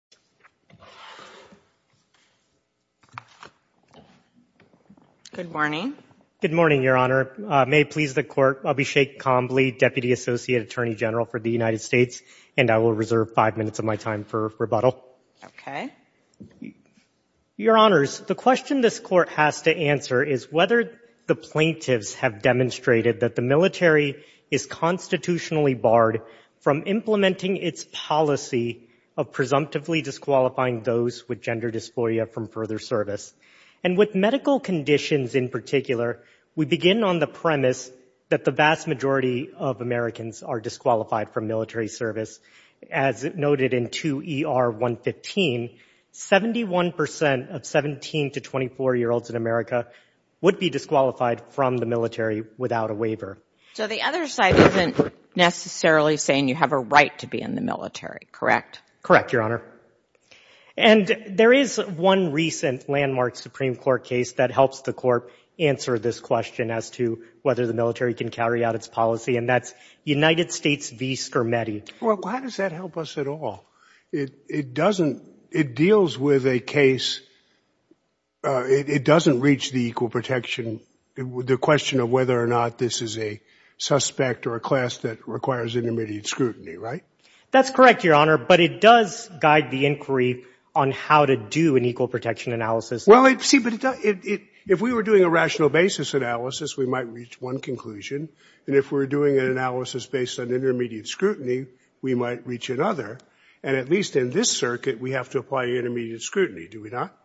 May 20, 2016 Court of Appeals The question this Court has to answer is whether the plaintiffs have demonstrated that the military is constitutionally barred from implementing its policy of presumptively disqualifying those with gender dysphoria from further service. And with medical conditions in particular, we begin on the premise that the vast majority of Americans are disqualified from military service. As noted in 2 ER 115, 71% of 17 to 24-year-olds in America would be disqualified from the military without a waiver. So the other side isn't necessarily saying you have a right to be in the military, correct? Correct, Your Honor. And there is one recent landmark Supreme Court case that helps the Court answer this question as to whether the military can carry out its policy, and that's United States v. Scarametti. Well, how does that help us at all? It doesn't, it deals with a case, it doesn't reach the equal protection, the question of whether or not this is a suspect or a class that requires intermediate scrutiny, right? That's correct, Your Honor, but it does guide the inquiry on how to do an equal protection analysis. Well, see, but if we were doing a rational basis analysis, we might reach one conclusion. And if we're doing an analysis based on intermediate scrutiny, we might reach another. And at least in this circuit, we have to apply intermediate scrutiny, do we not?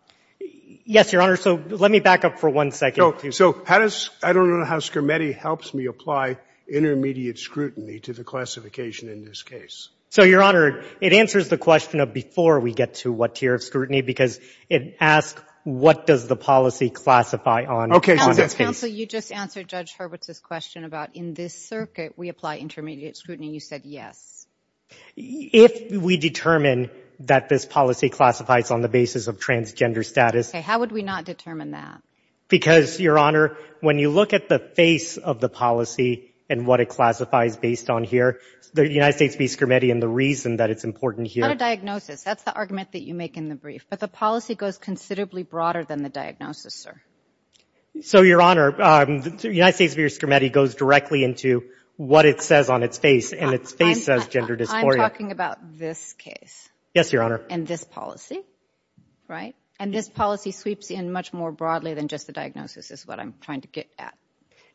Yes, Your Honor, so let me back up for one second. I don't know how Scarametti helps me apply intermediate scrutiny to the classification in this case. So, Your Honor, it answers the question of before we get to what tier of scrutiny, because it asks what does the policy classify on... Counsel, you just answered Judge Hurwitz's question about in this circuit we apply intermediate scrutiny, and you said yes. If we determine that this policy classifies on the basis of transgender status... Okay, how would we not determine that? Because, Your Honor, when you look at the face of the policy and what it classifies based on here, the United States v. Scarametti and the reason that it's important here... It's not a diagnosis. That's the argument that you make in the brief. But the policy goes considerably broader than the diagnosis, sir. So, Your Honor, United States v. Scarametti goes directly into what it says on its face, and its face says gender dysphoria. I'm talking about this case. Yes, Your Honor. And this policy, right? And this policy sweeps in much more broadly than just the diagnosis is what I'm trying to get at.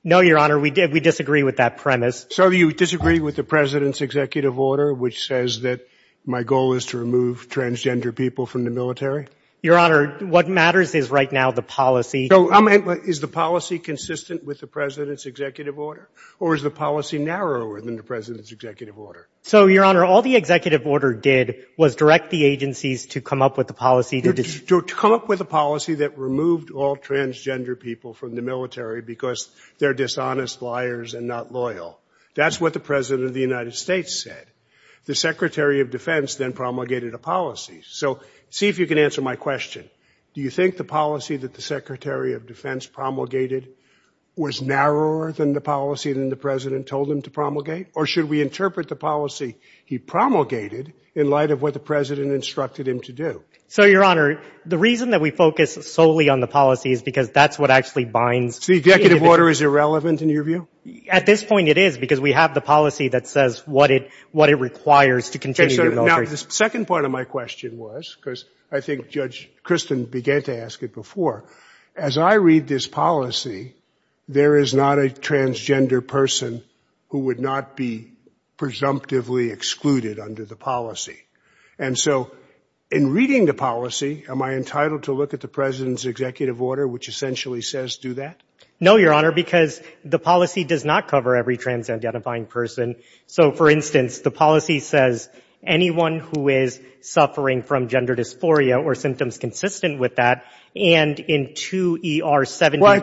No, Your Honor, we disagree with that premise. So, you disagree with the President's executive order, which says that my goal is to remove transgender people from the military? Your Honor, what matters is right now the policy... So, is the policy consistent with the President's executive order? Or is the policy narrower than the President's executive order? So, Your Honor, all the executive order did was direct the agencies to come up with a policy... To come up with a policy that removed all transgender people from the military because they're dishonest liars and not loyal. That's what the President of the United States said. The Secretary of Defense then promulgated a policy. So, see if you can answer my question. Do you think the policy that the Secretary of Defense promulgated was narrower than the policy that the President told him to promulgate? Or should we interpret the policy he promulgated in light of what the President instructed him to do? So, Your Honor, the reason that we focus solely on the policy is because that's what actually binds... So, the executive order is irrelevant in your view? At this point, it is because we have the policy that says what it requires to continue... Okay, so now the second part of my question was, because I think Judge Kristen began to ask it before. As I read this policy, there is not a transgender person who would not be presumptively excluded under the policy. And so, in reading the policy, am I entitled to look at the President's executive order which essentially says do that? No, Your Honor, because the policy does not cover every trans-identifying person. So, for instance, the policy says anyone who is suffering from gender dysphoria or symptoms consistent with that... Well, it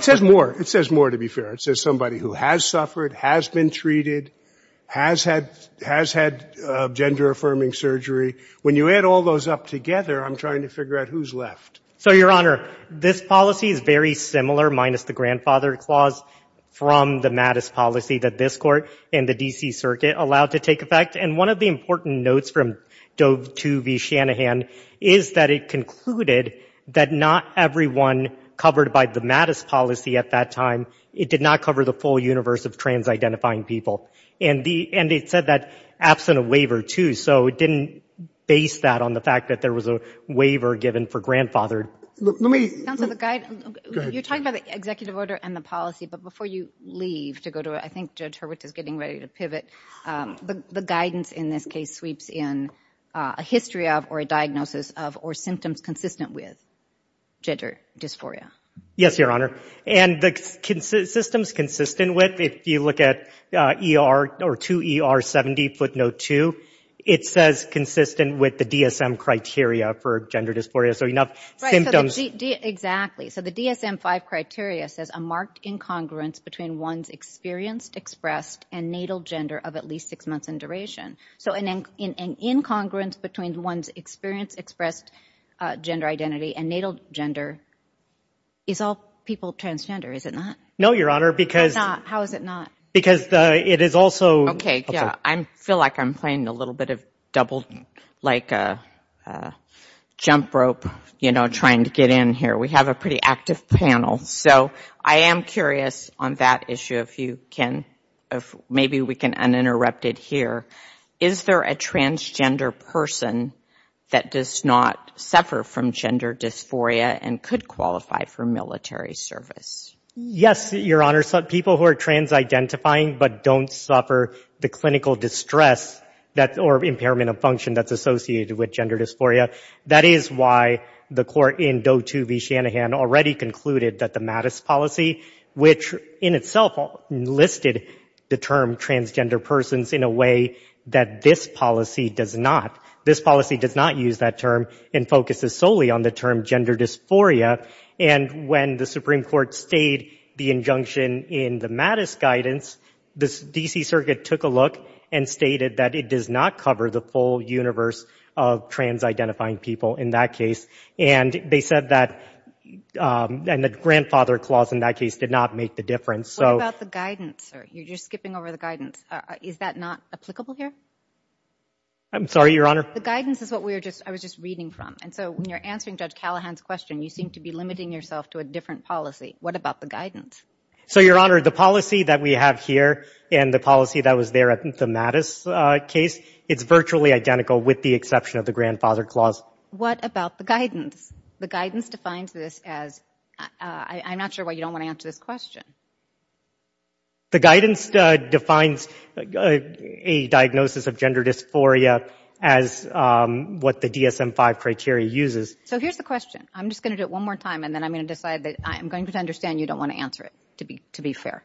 says more. It says more, to be fair. It says somebody who has suffered, has been treated, has had gender-affirming surgery. When you add all those up together, I'm trying to figure out who's left. So, Your Honor, this policy is very similar, minus the grandfather clause, from the Mattis policy that this court and the D.C. Circuit allowed to take effect. And one of the important notes from Doe v. Shanahan is that it concluded that not everyone covered by the Mattis policy at that time, it did not cover the full universe of trans-identifying people. And it said that absent a waiver, too. So, it didn't base that on the fact that there was a waiver given for grandfathered. You're talking about the executive order and the policy, but before you leave to go to it, I think Judge Hurwicz is getting ready to pivot. The guidance in this case sweeps in a history of, or a diagnosis of, or symptoms consistent with gender dysphoria. Yes, Your Honor. And the systems consistent with, if you look at 2ER70 footnote 2, it says consistent with the DSM criteria for gender dysphoria. Exactly. So, the DSM 5 criteria says a marked incongruence between one's experienced, expressed, and natal gender of at least 6 months in duration. So, an incongruence between one's experienced, expressed gender identity and natal gender is all people transgender, is it not? No, Your Honor. How is it not? Because it is also... Okay, I feel like I'm playing a little bit of double, like a jump rope, you know, trying to get in here. We have a pretty active panel, so I am curious on that issue if you can, maybe we can uninterrupt it here. Is there a transgender person that does not suffer from gender dysphoria and could qualify for military service? Yes, Your Honor. People who are trans-identifying but don't suffer the clinical distress or impairment of function that's associated with gender dysphoria. That is why the court in Doe 2 v. Shanahan already concluded that the Mattis policy, which in itself listed the term transgender persons in a way that this policy does not. This policy does not use that term and focuses solely on the term gender dysphoria. And when the Supreme Court stayed the injunction in the Mattis guidance, the D.C. Circuit took a look and stated that it does not cover the full universe of trans-identifying people in that case. And they said that, and the grandfather clause in that case did not make the difference. What about the guidance? You're just skipping over the guidance. Is that not applicable here? I'm sorry, Your Honor. The guidance is what I was just reading from, and so when you're answering Judge Callahan's question, you seem to be limiting yourself to a different policy. What about the guidance? So, Your Honor, the policy that we have here and the policy that was there in the Mattis case, it's virtually identical with the exception of the grandfather clause. What about the guidance? The guidance defines this as, I'm not sure why you don't want to answer this question. The guidance defines a diagnosis of gender dysphoria as what the DSM-5 criteria uses. So here's the question. I'm just going to do it one more time, and then I'm going to decide that I'm going to understand you don't want to answer it, to be fair.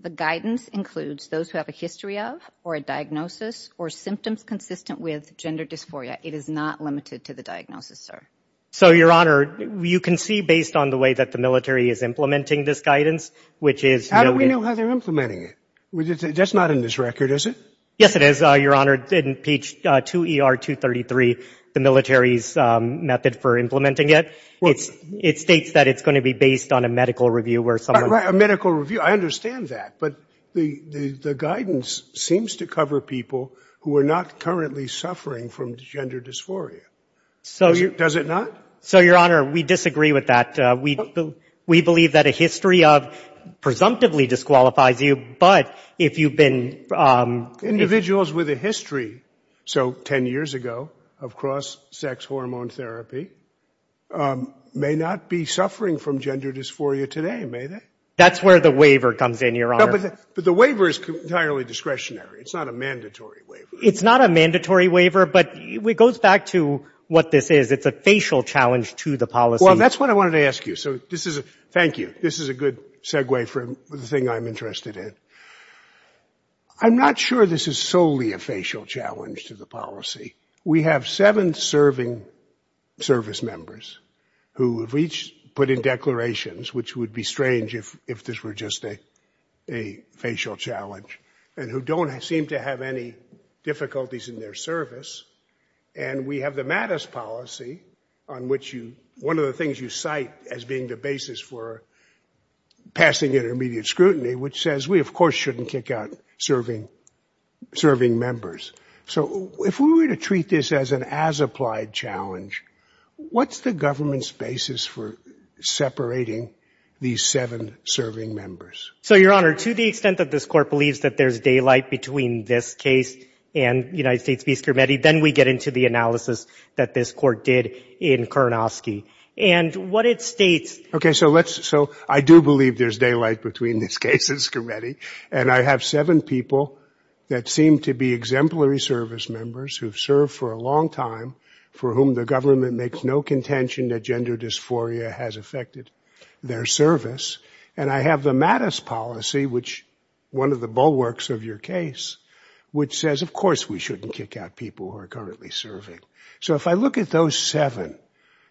The guidance includes those who have a history of or a diagnosis or symptoms consistent with gender dysphoria. It is not limited to the diagnosis, sir. So, Your Honor, you can see based on the way that the military is implementing this guidance, which is... How do we know how they're implementing it? That's not in this record, is it? Yes, it is, Your Honor. In page 2ER233, the military's method for implementing it, it states that it's going to be based on a medical review where someone... A medical review. I understand that, but the guidance seems to cover people who are not currently suffering from gender dysphoria. Does it not? So, Your Honor, we disagree with that. We believe that a history of presumptively disqualifies you, but if you've been... Individuals with a history, so 10 years ago, of cross-sex hormone therapy may not be suffering from gender dysphoria today, may they? That's where the waiver comes in, Your Honor. But the waiver is entirely discretionary. It's not a mandatory waiver. It's not a mandatory waiver, but it goes back to what this is. It's a facial challenge to the policy. Well, that's what I wanted to ask you, so thank you. This is a good segue for the thing I'm interested in. I'm not sure this is solely a facial challenge to the policy. We have seven serving service members who have each put in declarations, which would be strange if this were just a facial challenge, and who don't seem to have any difficulties in their service. And we have the Mattis policy, on which one of the things you cite as being the basis for passing intermediate scrutiny, which says we, of course, shouldn't kick out serving members. So, if we were to treat this as an as-applied challenge, what's the government's basis for separating these seven serving members? So, Your Honor, to the extent that this court believes that there's daylight between this case and the United States Peace Committee, then we get into the analysis that this court did in Karnofsky. Okay, so I do believe there's daylight between this case and this committee, and I have seven people that seem to be exemplary service members who've served for a long time, for whom the government makes no contention that gender dysphoria has affected their service. And I have the Mattis policy, which is one of the bulwarks of your case, which says, of course, we shouldn't kick out people who are currently serving. So, if I look at those seven,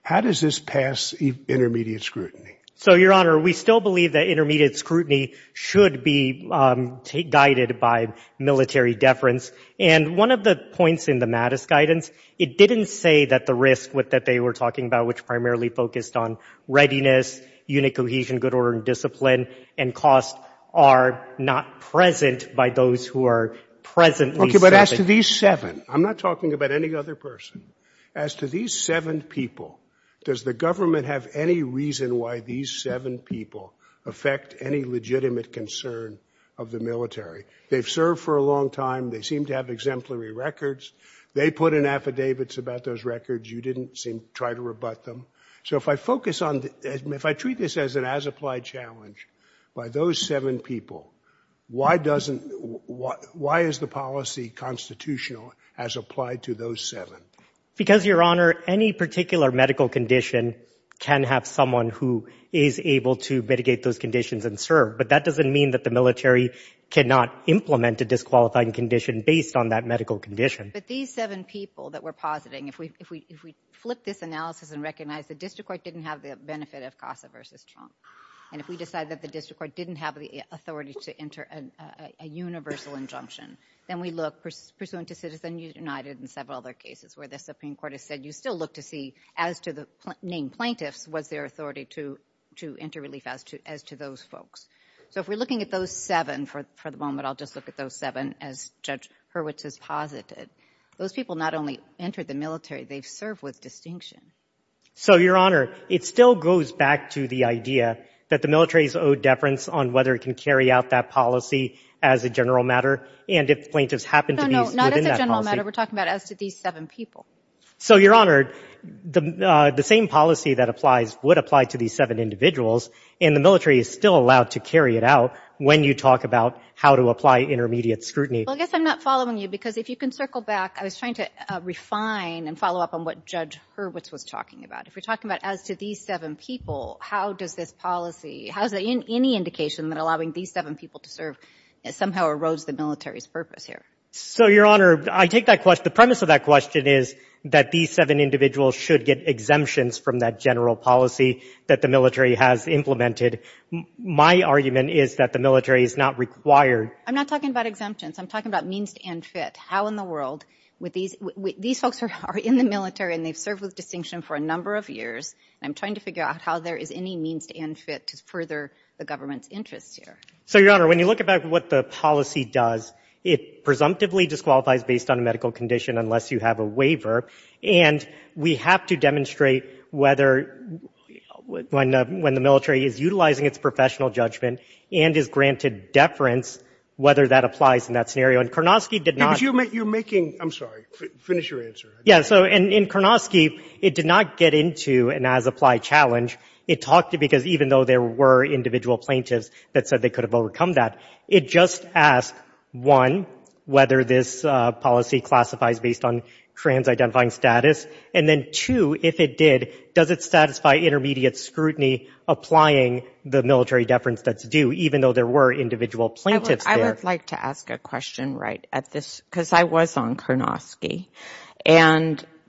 how does this pass intermediate scrutiny? So, Your Honor, we still believe that intermediate scrutiny should be guided by military deference, and one of the points in the Mattis guidance, it didn't say that the risk that they were talking about, which primarily focused on readiness, unit cohesion, good order, and discipline, and costs are not present by those who are presently serving. Okay, but as to these seven, I'm not talking about any other person. As to these seven people, does the government have any reason why these seven people affect any legitimate concern of the military? They've served for a long time. They seem to have exemplary records. They put in affidavits about those records. You didn't seem to try to rebut them. So, if I focus on, if I treat this as an as-applied challenge by those seven people, why is the policy constitutional as applied to those seven? Because, Your Honor, any particular medical condition can have someone who is able to mitigate those conditions and serve, but that doesn't mean that the military cannot implement a disqualifying condition based on that medical condition. But these seven people that we're positing, if we flip this analysis and recognize the district court didn't have the benefit of CASA versus Trump, and if we decide that the district court didn't have the authority to enter a universal injunction, then we look, pursuant to Citizens United and several other cases where the Supreme Court has said, you still look to see, as to the named plaintiffs, was there authority to enter relief as to those folks. So, if we're looking at those seven for the moment, I'll just look at those seven as Judge Hurwitz has posited, those people not only entered the military, they served with distinction. So, Your Honor, it still goes back to the idea that the military is owed deference on whether it can carry out that policy as a general matter, and if plaintiffs happen to be within that policy. No, no, not as a general matter. We're talking about as to these seven people. So, Your Honor, the same policy that applies would apply to these seven individuals, and the military is still allowed to carry it out when you talk about how to apply intermediate scrutiny. Well, I guess I'm not following you, because if you can circle back, I was trying to refine and follow up on what Judge Hurwitz was talking about. If we're talking about as to these seven people, how does this policy, how is there any indication that allowing these seven people to serve somehow arose the military's purpose here? So, Your Honor, I take that question, the premise of that question is that these seven individuals should get exemptions from that general policy that the military has implemented. My argument is that the military is not required. I'm not talking about exemptions. I'm talking about means to end fit. How in the world would these folks who are in the military and they served with distinction for a number of years, I'm trying to figure out how there is any means to end fit to further the government's interest here. So, Your Honor, when you look at what the policy does, it presumptively disqualifies based on a medical condition unless you have a waiver, and we have to demonstrate whether when the military is utilizing its professional judgment and is granted deference, whether that applies in that scenario, and Karnofsky did not. You're making, I'm sorry, finish your answer. Yeah, so in Karnofsky, it did not get into an as-applied challenge. It talked to, because even though there were individual plaintiffs that said they could have overcome that, it just asked, one, whether this policy classifies based on trans-identifying status, and then two, if it did, does it satisfy intermediate scrutiny applying the military deference that's due, even though there were individual plaintiffs there. I would like to ask a question right at this, because I was on Karnofsky,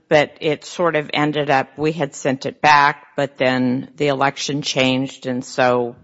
but it sort of ended up, we had sent it back, but then the election changed, and so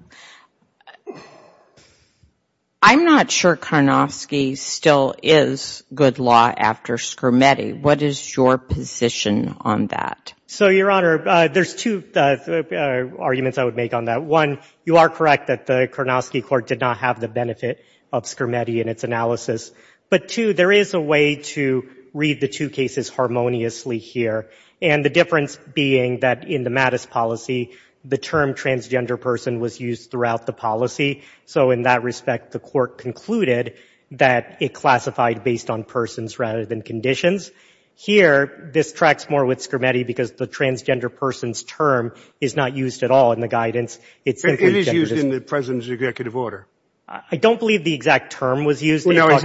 I'm not sure Karnofsky still is good law after Scrimeti. What is your position on that? So, Your Honor, there's two arguments I would make on that. One, you are correct that the Karnofsky court did not have the benefit of Scrimeti in its analysis, but two, there is a way to read the two cases harmoniously here, and the difference being that in the Mattis policy, the term transgender person was used throughout the policy, so in that respect, the court concluded that it classified based on persons rather than conditions. Here, this tracks more with Scrimeti because the transgender person's term is not used at all in the guidance. It is used in the president's executive order. I don't believe the exact term was used. No, he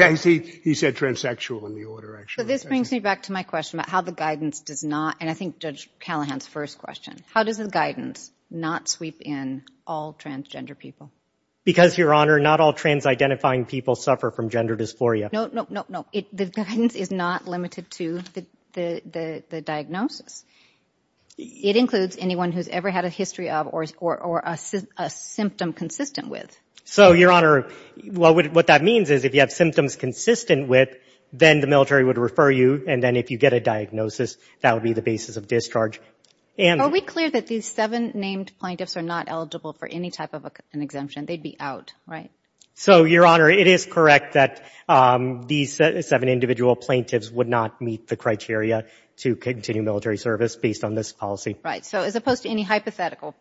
said transsexual in the order, actually. So this brings me back to my question about how the guidance does not, and I think Judge Callahan's first question, how does the guidance not sweep in all transgender people? Because, Your Honor, not all trans-identifying people suffer from gender dysphoria. No, no, no, no, the guidance is not limited to the diagnosis. It includes anyone who's ever had a history of or a symptom consistent with. So, Your Honor, what that means is if you have symptoms consistent with, then the military would refer you, and then if you get a diagnosis, that would be the basis of discharge. Are we clear that these seven named plaintiffs are not eligible for any type of an exemption? They'd be out, right? So, Your Honor, it is correct that these seven individual plaintiffs would not meet the criteria to continue military service based on this policy. Right, so as opposed to any hypothetical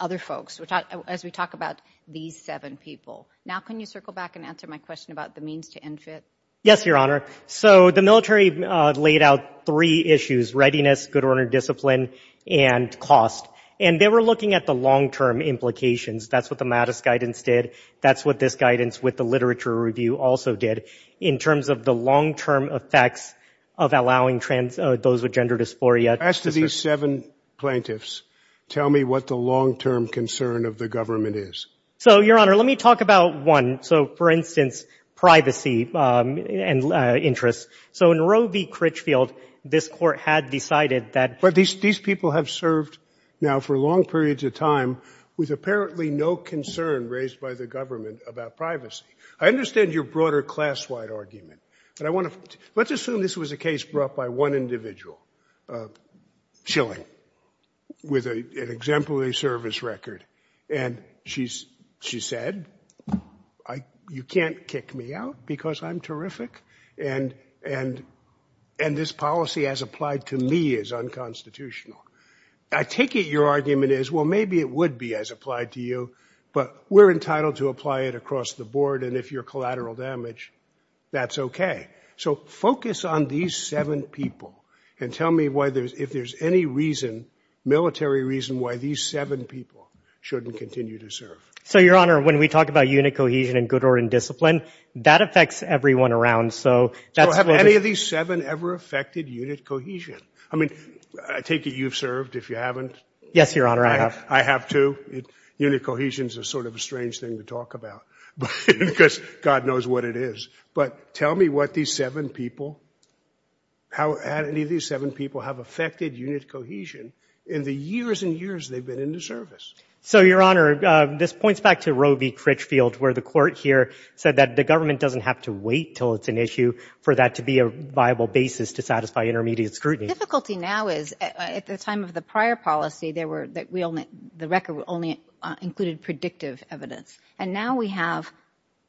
other folks, as we talk about these seven people. Now can you circle back and answer my question about the means to end it? Yes, Your Honor. So the military laid out three issues, readiness, good order, discipline, and cost. And they were looking at the long-term implications. That's what the MADIS guidance did. That's what this guidance with the literature review also did, in terms of the long-term effects of allowing those with gender dysphoria. As to these seven plaintiffs, tell me what the long-term concern of the government is. So, Your Honor, let me talk about one. So, for instance, privacy and interest. So in Roe v. Critchfield, this court had decided that... But these people have served now for long periods of time with apparently no concern raised by the government about privacy. I understand your broader class-wide argument. Let's assume this was a case brought by one individual, Schilling, with an exemplary service record. And she said, you can't kick me out because I'm terrific, and this policy as applied to me is unconstitutional. I take it your argument is, well, maybe it would be as applied to you, but we're entitled to apply it across the board, and if you're collateral damage, that's okay. So focus on these seven people and tell me if there's any reason, military reason, why these seven people shouldn't continue to serve. So, Your Honor, when we talk about unit cohesion and good order and discipline, that affects everyone around. So have any of these seven ever affected unit cohesion? I mean, I take it you've served, if you haven't. Yes, Your Honor, I have. I have too. Unit cohesion is sort of a strange thing to talk about. Because God knows what it is. But tell me what these seven people, how any of these seven people have affected unit cohesion in the years and years they've been in the service. So, Your Honor, this points back to Roe v. Critchfield, where the court here said that the government doesn't have to wait until it's an issue for that to be a viable basis to satisfy intermediate scrutiny. The difficulty now is, at the time of the prior policy, the record only included predictive evidence. And now we have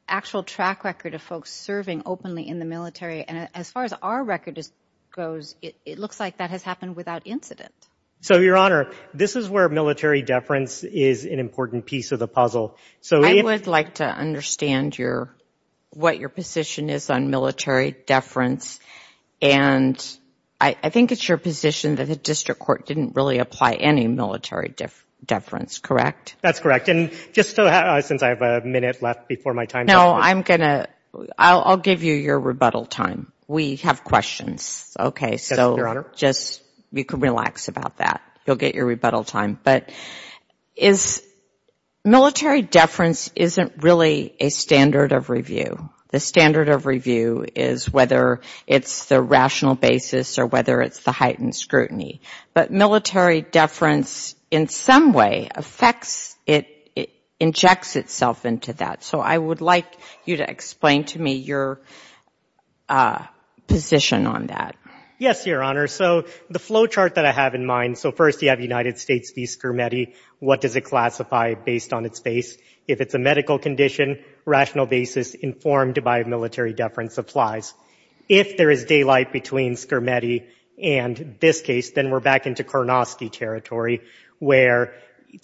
actual track record of folks serving openly in the military. And as far as our record goes, it looks like that has happened without incident. So, Your Honor, this is where military deference is an important piece of the puzzle. I would like to understand what your position is on military deference. And I think it's your position that the district court didn't really apply any military deference, correct? That's correct. And just since I have a minute left before my time... No, I'm going to... I'll give you your rebuttal time. We have questions. Okay, so just relax about that. You'll get your rebuttal time. But military deference isn't really a standard of review. The standard of review is whether it's the rational basis or whether it's the heightened scrutiny. But military deference, in some way, injects itself into that. So I would like you to explain to me your position on that. Yes, Your Honor. So the flowchart that I have in mind... So first you have United States v. Scarametti. What does it classify based on its base? If it's a medical condition, rational basis informed by military deference applies. If there is daylight between Scarametti and this case, then we're back into Kornofsky territory where,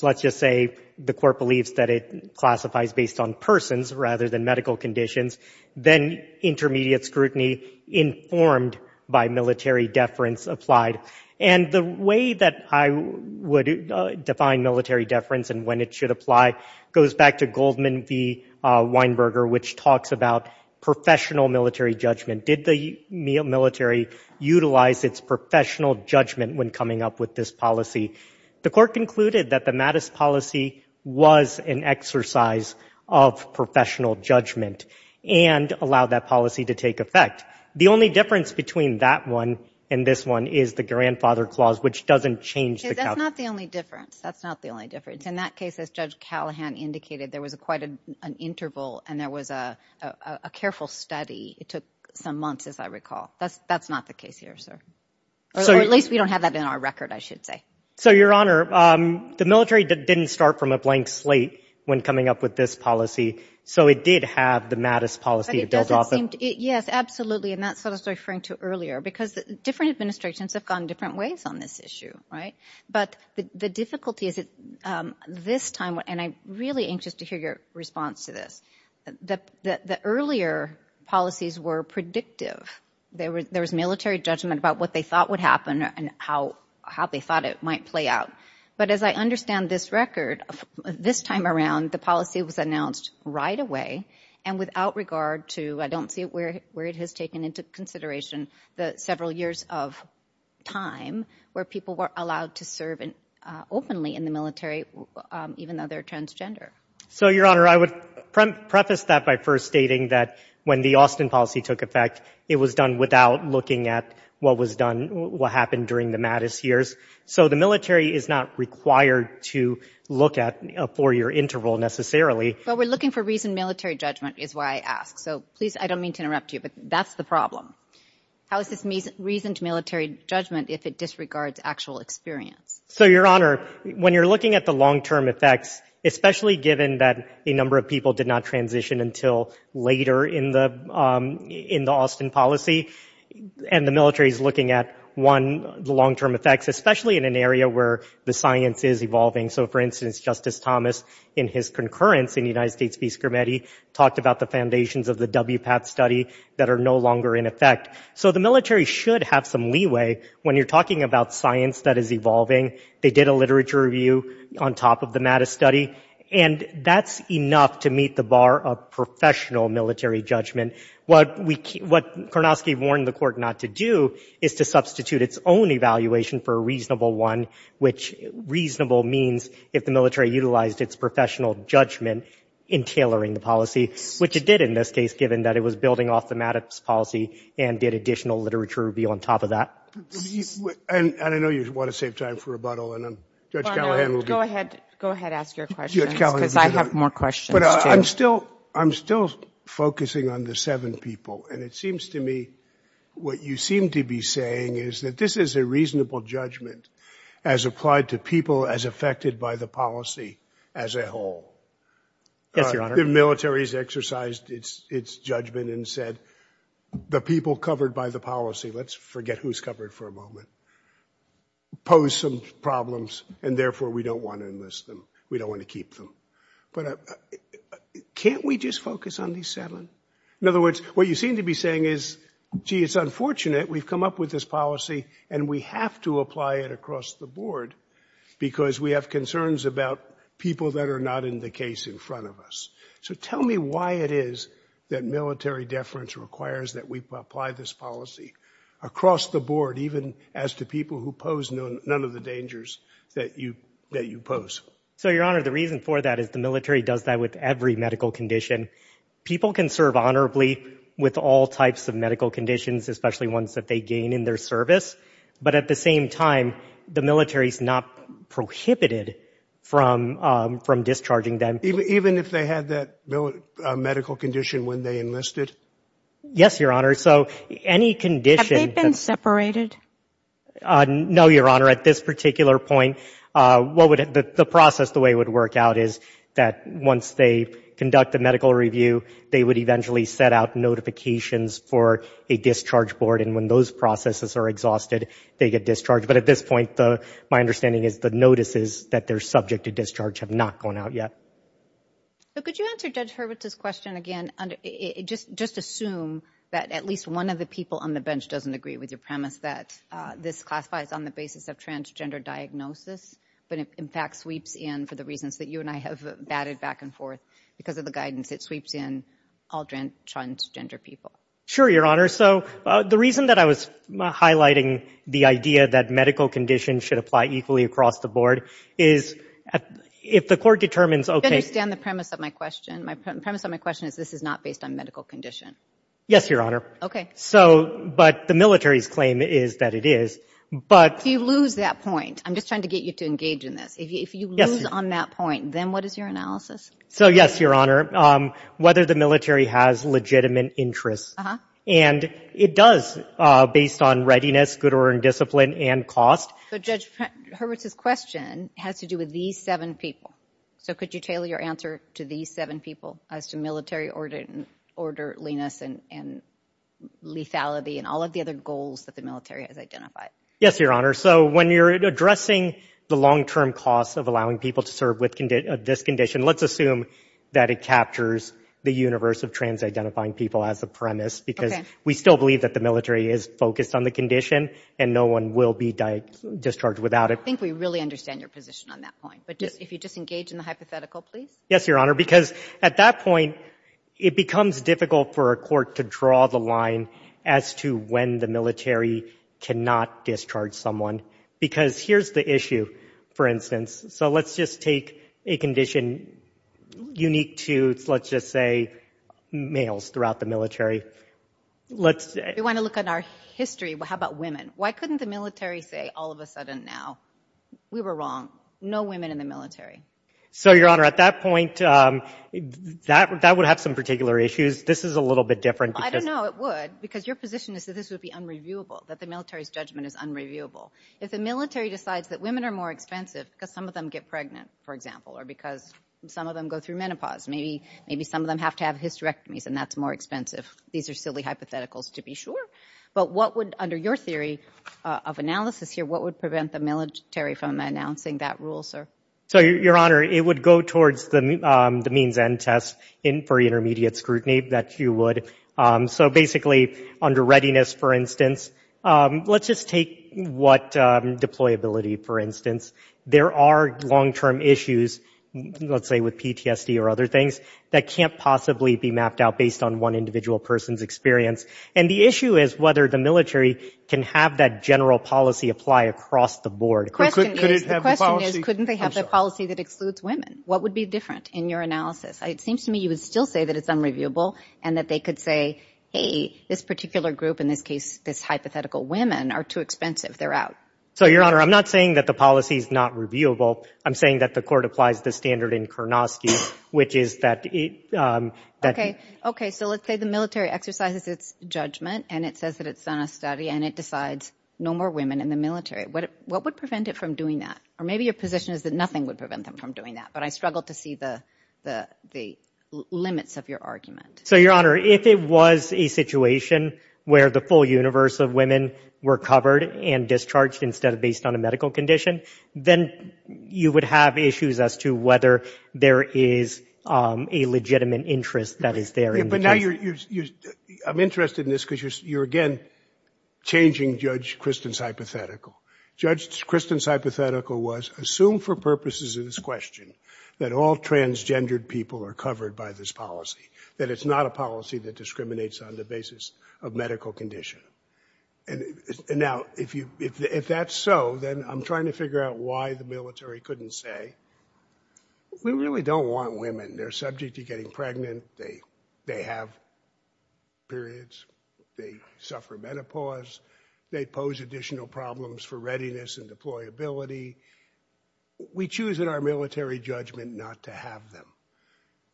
let's just say, the court believes that it classifies based on persons rather than medical conditions. Then intermediate scrutiny informed by military deference applied. And the way that I would define military deference and when it should apply goes back to Goldman v. Weinberger, which talks about professional military judgment. Did the military utilize its professional judgment when coming up with this policy? The court concluded that the Mattis policy was an exercise of professional judgment and allowed that policy to take effect. The only difference between that one and this one is the grandfather clause, which doesn't change the... That's not the only difference. That's not the only difference. In that case, as Judge Callahan indicated, there was quite an interval and there was a careful study. It took some months, as I recall. That's not the case here, sir. Or at least we don't have that in our record, I should say. Your Honor, the military didn't start from a blank slate when coming up with this policy, so it did have the Mattis policy. Yes, absolutely, and that's what I was referring to earlier because different administrations have gone different ways on this issue, right? But the difficulty is that this time... And I'm really anxious to hear your response to this. The earlier policies were predictive. There was military judgment about what they thought would happen and how they thought it might play out. But as I understand this record, this time around, the policy was announced right away and without regard to... I don't see where it has taken into consideration the several years of time where people were allowed to serve openly in the military even though they're transgender. So, Your Honor, I would preface that by first stating that when the Austin policy took effect, it was done without looking at what happened during the Mattis years. So the military is not required to look at a four-year interval, necessarily. But we're looking for reasoned military judgment is why I ask. So, please, I don't mean to interrupt you, but that's the problem. How is this reasoned military judgment if it disregards actual experience? So, Your Honor, when you're looking at the long-term effects, especially given that a number of people did not transition until later in the Austin policy, and the military is looking at, one, the long-term effects, especially in an area where the science is evolving. So, for instance, Justice Thomas, in his concurrence in the United States Peace Committee, talked about the foundations of the WPAP study that are no longer in effect. So the military should have some leeway when you're talking about science that is evolving. They did a literature review on top of the Mattis study, and that's enough to meet the bar of professional military judgment. What Kornofsky warned the court not to do is to substitute its own evaluation for a reasonable one, which reasonable means if the military utilized its professional judgment in tailoring the policy, which it did in this case, given that it was building off the Mattis policy and did additional literature review on top of that. And I know you want to save time for rebuttal, and Judge Callahan will be— Go ahead. Go ahead. Ask your question, because I have more questions, too. But I'm still focusing on the seven people, and it seems to me what you seem to be saying is that this is a reasonable judgment as applied to people as affected by the policy as a whole. Thank you, Your Honor. The military has exercised its judgment and said the people covered by the policy— let's forget who's covered for a moment—pose some problems, and therefore we don't want to enlist them. We don't want to keep them. But can't we just focus on these seven? In other words, what you seem to be saying is, gee, it's unfortunate we've come up with this policy and we have to apply it across the board because we have concerns about people that are not in the case in front of us. So tell me why it is that military deference requires that we apply this policy across the board, even as to people who pose none of the dangers that you pose. So, Your Honor, the reason for that is the military does that with every medical condition. People can serve honorably with all types of medical conditions, especially ones that they gain in their service. But at the same time, the military is not prohibited from discharging them. Even if they had that medical condition when they enlisted? Yes, Your Honor. So any condition— No, Your Honor. At this particular point, the process, the way it would work out, is that once they conduct the medical review, they would eventually set out notifications for a discharge board, and when those processes are exhausted, they get discharged. But at this point, my understanding is the notices that they're subject to discharge have not gone out yet. So could you answer Judge Hurwitz's question again? Just assume that at least one of the people on the bench doesn't agree with your premise that this classifies on the basis of transgender diagnosis, but in fact sweeps in for the reasons that you and I have batted back and forth. Because of the guidance, it sweeps in all transgender people. Sure, Your Honor. So the reason that I was highlighting the idea that medical conditions should apply equally across the board is if the court determines— Do you understand the premise of my question? The premise of my question is this is not based on medical condition. Yes, Your Honor. Okay. But the military's claim is that it is. You lose that point. I'm just trying to get you to engage in this. If you lose on that point, then what is your analysis? So yes, Your Honor, whether the military has legitimate interests. And it does based on readiness, good order and discipline, and cost. But Judge Hurwitz's question has to do with these seven people. So could you tailor your answer to these seven people as to military orderliness and lethality and all of the other goals that the military has identified? Yes, Your Honor. So when you're addressing the long-term costs of allowing people to serve with this condition, let's assume that it captures the universe of trans-identifying people as a premise because we still believe that the military is focused on the condition and no one will be discharged without it. I think we really understand your position on that point. But if you just engage in the hypothetical, please. Yes, Your Honor. Because at that point, it becomes difficult for a court to draw the line as to when the military cannot discharge someone because here's the issue, for instance. So let's just take a condition unique to, let's just say, males throughout the military. We want to look at our history. How about women? Why couldn't the military say all of a sudden now, we were wrong, no women in the military? So, Your Honor, at that point, that would have some particular issues. This is a little bit different. I don't know it would because your position is that this would be unreviewable, that the military's judgment is unreviewable. If the military decides that women are more expensive because some of them get pregnant, for example, or because some of them go through menopause, maybe some of them have to have hysterectomies and that's more expensive. These are silly hypotheticals to be sure. But what would, under your theory of analysis here, what would prevent the military from announcing that rule, sir? So, Your Honor, it would go towards the means end test for intermediate scrutiny, that you would. So, basically, under readiness, for instance, let's just take what deployability, for instance. There are long-term issues, let's say with PTSD or other things, that can't possibly be mapped out based on one individual person's experience. And the issue is whether the military can have that general policy apply across the board. The question is, couldn't they have a policy that excludes women? What would be different in your analysis? It seems to me you would still say that it's unreviewable and that they could say, hey, this particular group, in this case, this hypothetical women, are too expensive. They're out. So, Your Honor, I'm not saying that the policy is not reviewable. I'm saying that the court applies the standard in Karnofsky, which is that... Okay, so let's say the military exercises its judgment and it says that it's done a study and it decides no more women in the military. What would prevent it from doing that? Or maybe your position is that nothing would prevent them from doing that. But I struggle to see the limits of your argument. So, Your Honor, if it was a situation where the full universe of women were covered and discharged instead of based on a medical condition, then you would have issues as to whether there is a legitimate interest that is there. But now you're... I'm interested in this because you're again changing Judge Kristen's hypothetical. Judge Kristen's hypothetical was, assume for purposes of this question that all transgendered people are covered by this policy, that it's not a policy that discriminates on the basis of medical condition. Now, if that's so, then I'm trying to figure out why the military couldn't say, we really don't want women. They're subject to getting pregnant. They have periods. They suffer menopause. They pose additional problems for readiness and deployability. We choose in our military judgment not to have them.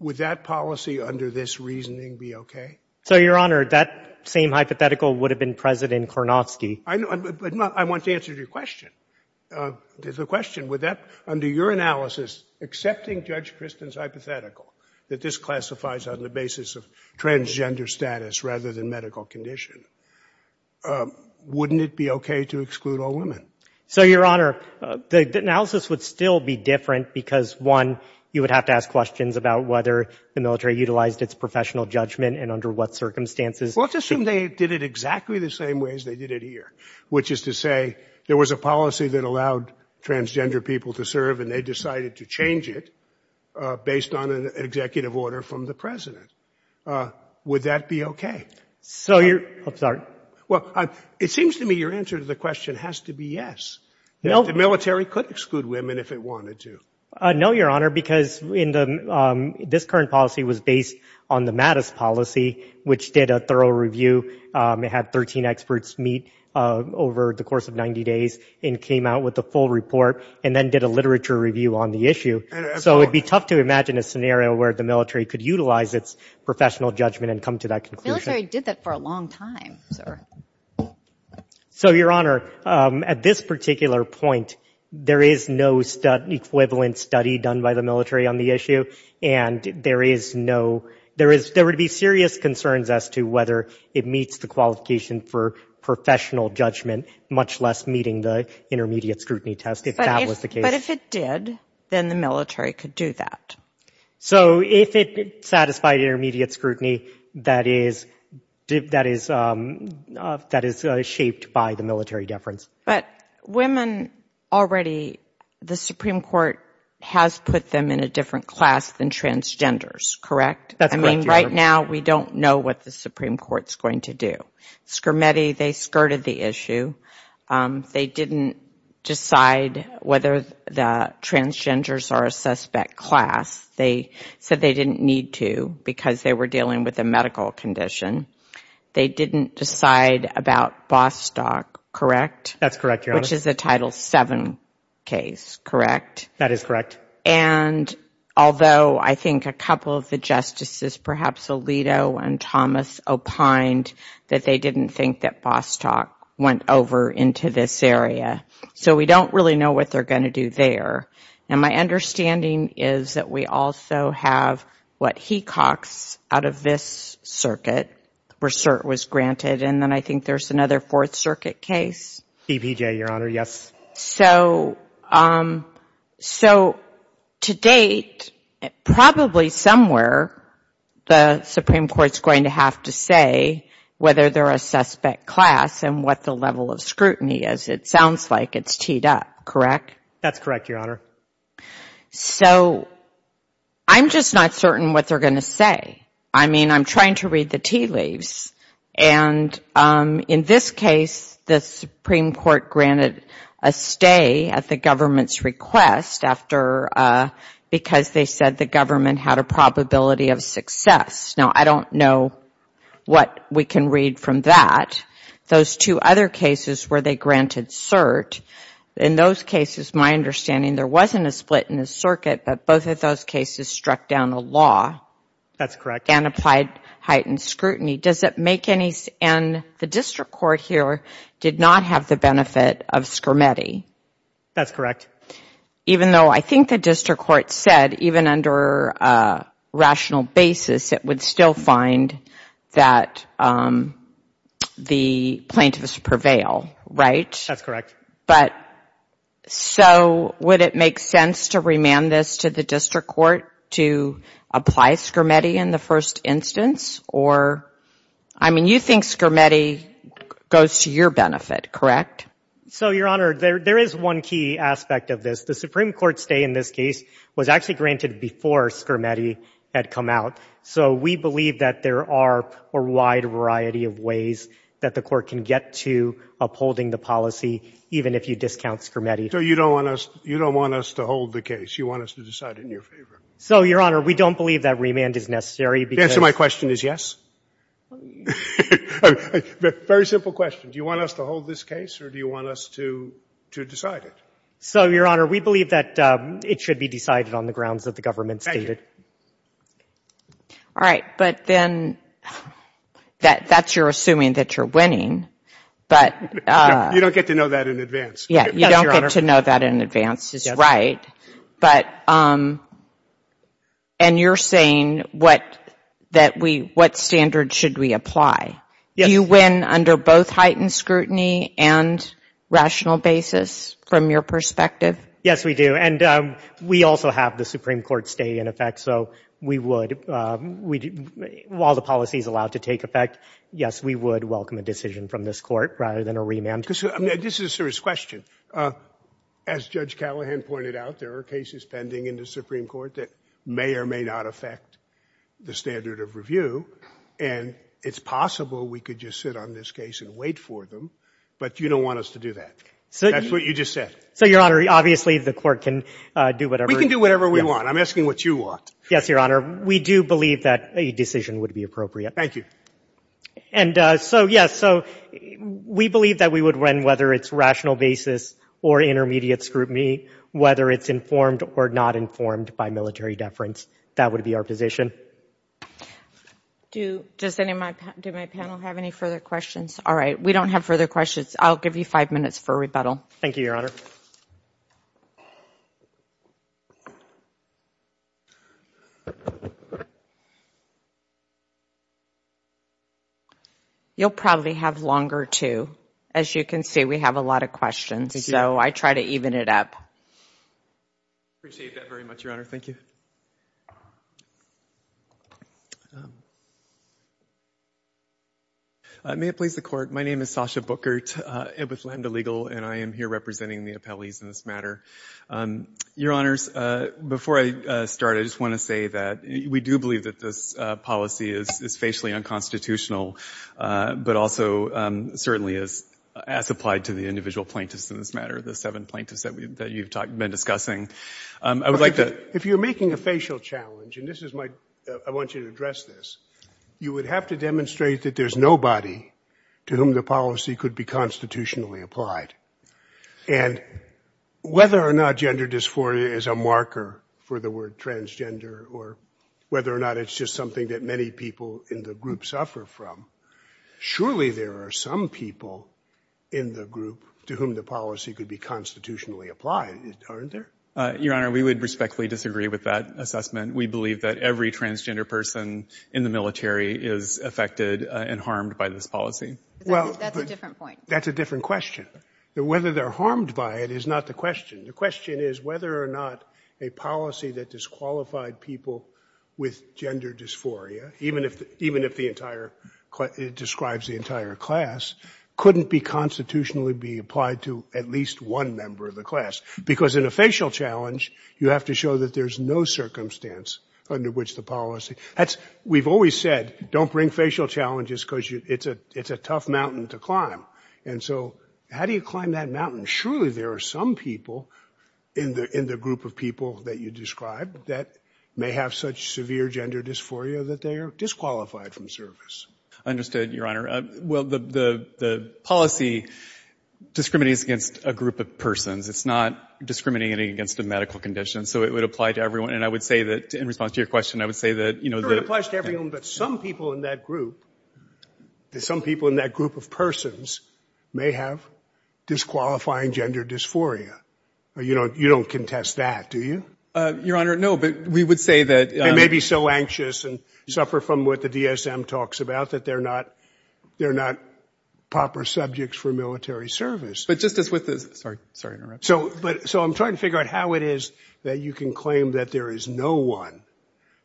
Would that policy under this reasoning be okay? So, Your Honor, that same hypothetical would have been present in Kornofsky. I want to answer your question. There's a question. Would that, under your analysis, accepting Judge Kristen's hypothetical that this classifies on the basis of transgender status rather than medical condition, wouldn't it be okay to exclude all women? So, Your Honor, the analysis would still be different because, one, you would have to ask questions about whether the military utilized its professional judgment and under what circumstances. Let's assume they did it exactly the same way as they did it here, which is to say there was a policy that allowed transgender people to serve and they decided to change it based on an executive order from the president. Would that be okay? I'm sorry. Well, it seems to me your answer to the question has to be yes. The military could exclude women if it wanted to. No, Your Honor, because this current policy was based on the Mattis policy, which did a thorough review. It had 13 experts meet over the course of 90 days and came out with a full report and then did a literature review on the issue. So it would be tough to imagine a scenario where the military could utilize its professional judgment and come to that conclusion. The military did that for a long time, sir. So, Your Honor, at this particular point, there is no equivalent study done by the military on the issue, and there would be serious concerns as to whether it meets the qualification for professional judgment, much less meeting the intermediate scrutiny test, if that was the case. But if it did, then the military could do that. So if it satisfied intermediate scrutiny, that is shaped by the military deference. But women already, the Supreme Court has put them in a different class than transgenders, correct? That's correct, Your Honor. I mean, right now we don't know what the Supreme Court's going to do. Scrimeti, they skirted the issue. They didn't decide whether the transgenders are a suspect class. They said they didn't need to because they were dealing with a medical condition. They didn't decide about Bostock, correct? That's correct, Your Honor. Which is the Title VII case, correct? That is correct. And although I think a couple of the justices, perhaps Alito and Thomas, opined that they didn't think that Bostock went over into this area. So we don't really know what they're going to do there. And my understanding is that we also have what Hecox out of this circuit, where cert was granted, and then I think there's another Fourth Circuit case. CBJ, Your Honor, yes. So to date, probably somewhere the Supreme Court's going to have to say whether they're a suspect class and what the level of scrutiny is. It sounds like it's teed up, correct? That's correct, Your Honor. So I'm just not certain what they're going to say. I mean, I'm trying to read the tea leaves. And in this case, the Supreme Court granted a stay at the government's request because they said the government had a probability of success. Now, I don't know what we can read from that. Those two other cases where they granted cert, in those cases, my understanding there wasn't a split in the circuit, but both of those cases struck down the law. That's correct. And applied heightened scrutiny. Does that make any sense? And the district court here did not have the benefit of Scrimeti. That's correct. Even though I think the district court said, even under a rational basis, it would still find that the plaintiffs prevail, right? That's correct. But so would it make sense to remand this to the district court to apply Scrimeti in the first instance? I mean, you think Scrimeti goes to your benefit, correct? So, Your Honor, there is one key aspect of this. The Supreme Court stay in this case was actually granted before Scrimeti had come out. So we believe that there are a wide variety of ways that the court can get to upholding the policy, even if you discount Scrimeti. So you don't want us to hold the case. You want us to decide in your favor. So, Your Honor, we don't believe that remand is necessary. The answer to my question is yes. Very simple question. Do you want us to hold this case or do you want us to decide it? So, Your Honor, we believe that it should be decided on the grounds that the government stated. Thank you. All right. But then that's your assuming that you're winning. You don't get to know that in advance. You don't get to know that in advance is right. And you're saying what standard should we apply? Do you win under both heightened scrutiny and rational basis from your perspective? Yes, we do. And we also have the Supreme Court stay in effect. So we would, while the policy is allowed to take effect, yes, we would welcome a decision from this court rather than a remand. This is a serious question. As Judge Callahan pointed out, there are cases pending in the Supreme Court that may or may not affect the standard of review. And it's possible we could just sit on this case and wait for them. But you don't want us to do that. That's what you just said. So, Your Honor, obviously the court can do whatever. We can do whatever we want. I'm asking what you want. Yes, Your Honor. We do believe that a decision would be appropriate. Thank you. And so, yes, so we believe that we would win whether it's rational basis or intermediate scrutiny, whether it's informed or not informed by military deference. That would be our position. Does my panel have any further questions? All right. We don't have further questions. I'll give you five minutes for rebuttal. Thank you, Your Honor. You'll probably have longer, too. As you can see, we have a lot of questions. So I try to even it up. Appreciate that very much, Your Honor. Thank you. May it please the Court, my name is Sasha Bookert. It was Lambda Legal, and I am here representing the appellees in this matter. Your Honors, before I start, I just want to say that we do believe that this policy is facially unconstitutional, but also certainly as applied to the individual plaintiffs in this matter, the seven plaintiffs that you've been discussing. If you're making a facial challenge, and I want you to address this, you would have to demonstrate that there's nobody to whom the policy could be constitutionally applied. And whether or not gender dysphoria is a marker for the word transgender or whether or not it's just something that many people in the group suffer from, surely there are some people in the group to whom the policy could be constitutionally applied, aren't there? Your Honor, we would respectfully disagree with that assessment. We believe that every transgender person in the military is affected and harmed by this policy. That's a different point. That's a different question. Whether they're harmed by it is not the question. The question is whether or not a policy that disqualified people with gender dysphoria, even if it describes the entire class, couldn't be constitutionally be applied to at least one member of the class. Because in a facial challenge, you have to show that there's no circumstance under which the policy... We've always said, don't bring facial challenges because it's a tough mountain to climb. And so how do you climb that mountain? Surely there are some people in the group of people that you described that may have such severe gender dysphoria that they are disqualified from service. Understood, Your Honor. Well, the policy discriminates against a group of persons. It's not discriminating against a medical condition. So it would apply to everyone. And I would say that in response to your question, I would say that... It applies to everyone, but some people in that group, some people in that group of persons may have disqualifying gender dysphoria. You don't contest that, do you? Your Honor, no, but we would say that... They may be so anxious and suffer from what the DSM talks about, that they're not proper subjects for military service. But just as with the... Sorry, sorry to interrupt. So I'm trying to figure out how it is that you can claim that there is no one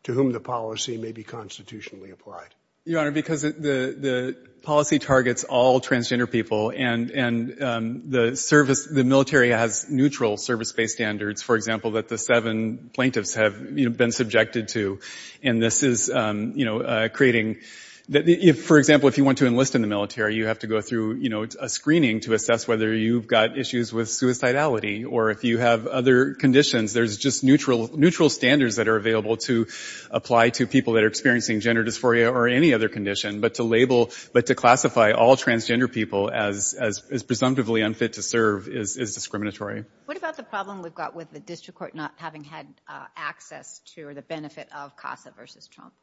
to whom the policy may be constitutionally applied. Your Honor, because the policy targets all transgender people, and the military has neutral service-based standards, for example, that the seven plaintiffs have been subjected to. And this is creating... For example, if you want to enlist in the military, you have to go through a screening to assess whether you've got issues with suicidality or if you have other conditions. There's just neutral standards that are available to apply to people that are experiencing gender dysphoria or any other condition. But to label, but to classify all transgender people as presumptively unfit to serve is discriminatory. What about the problem we've got with the district court not having had access to the benefit of CASA versus Trump?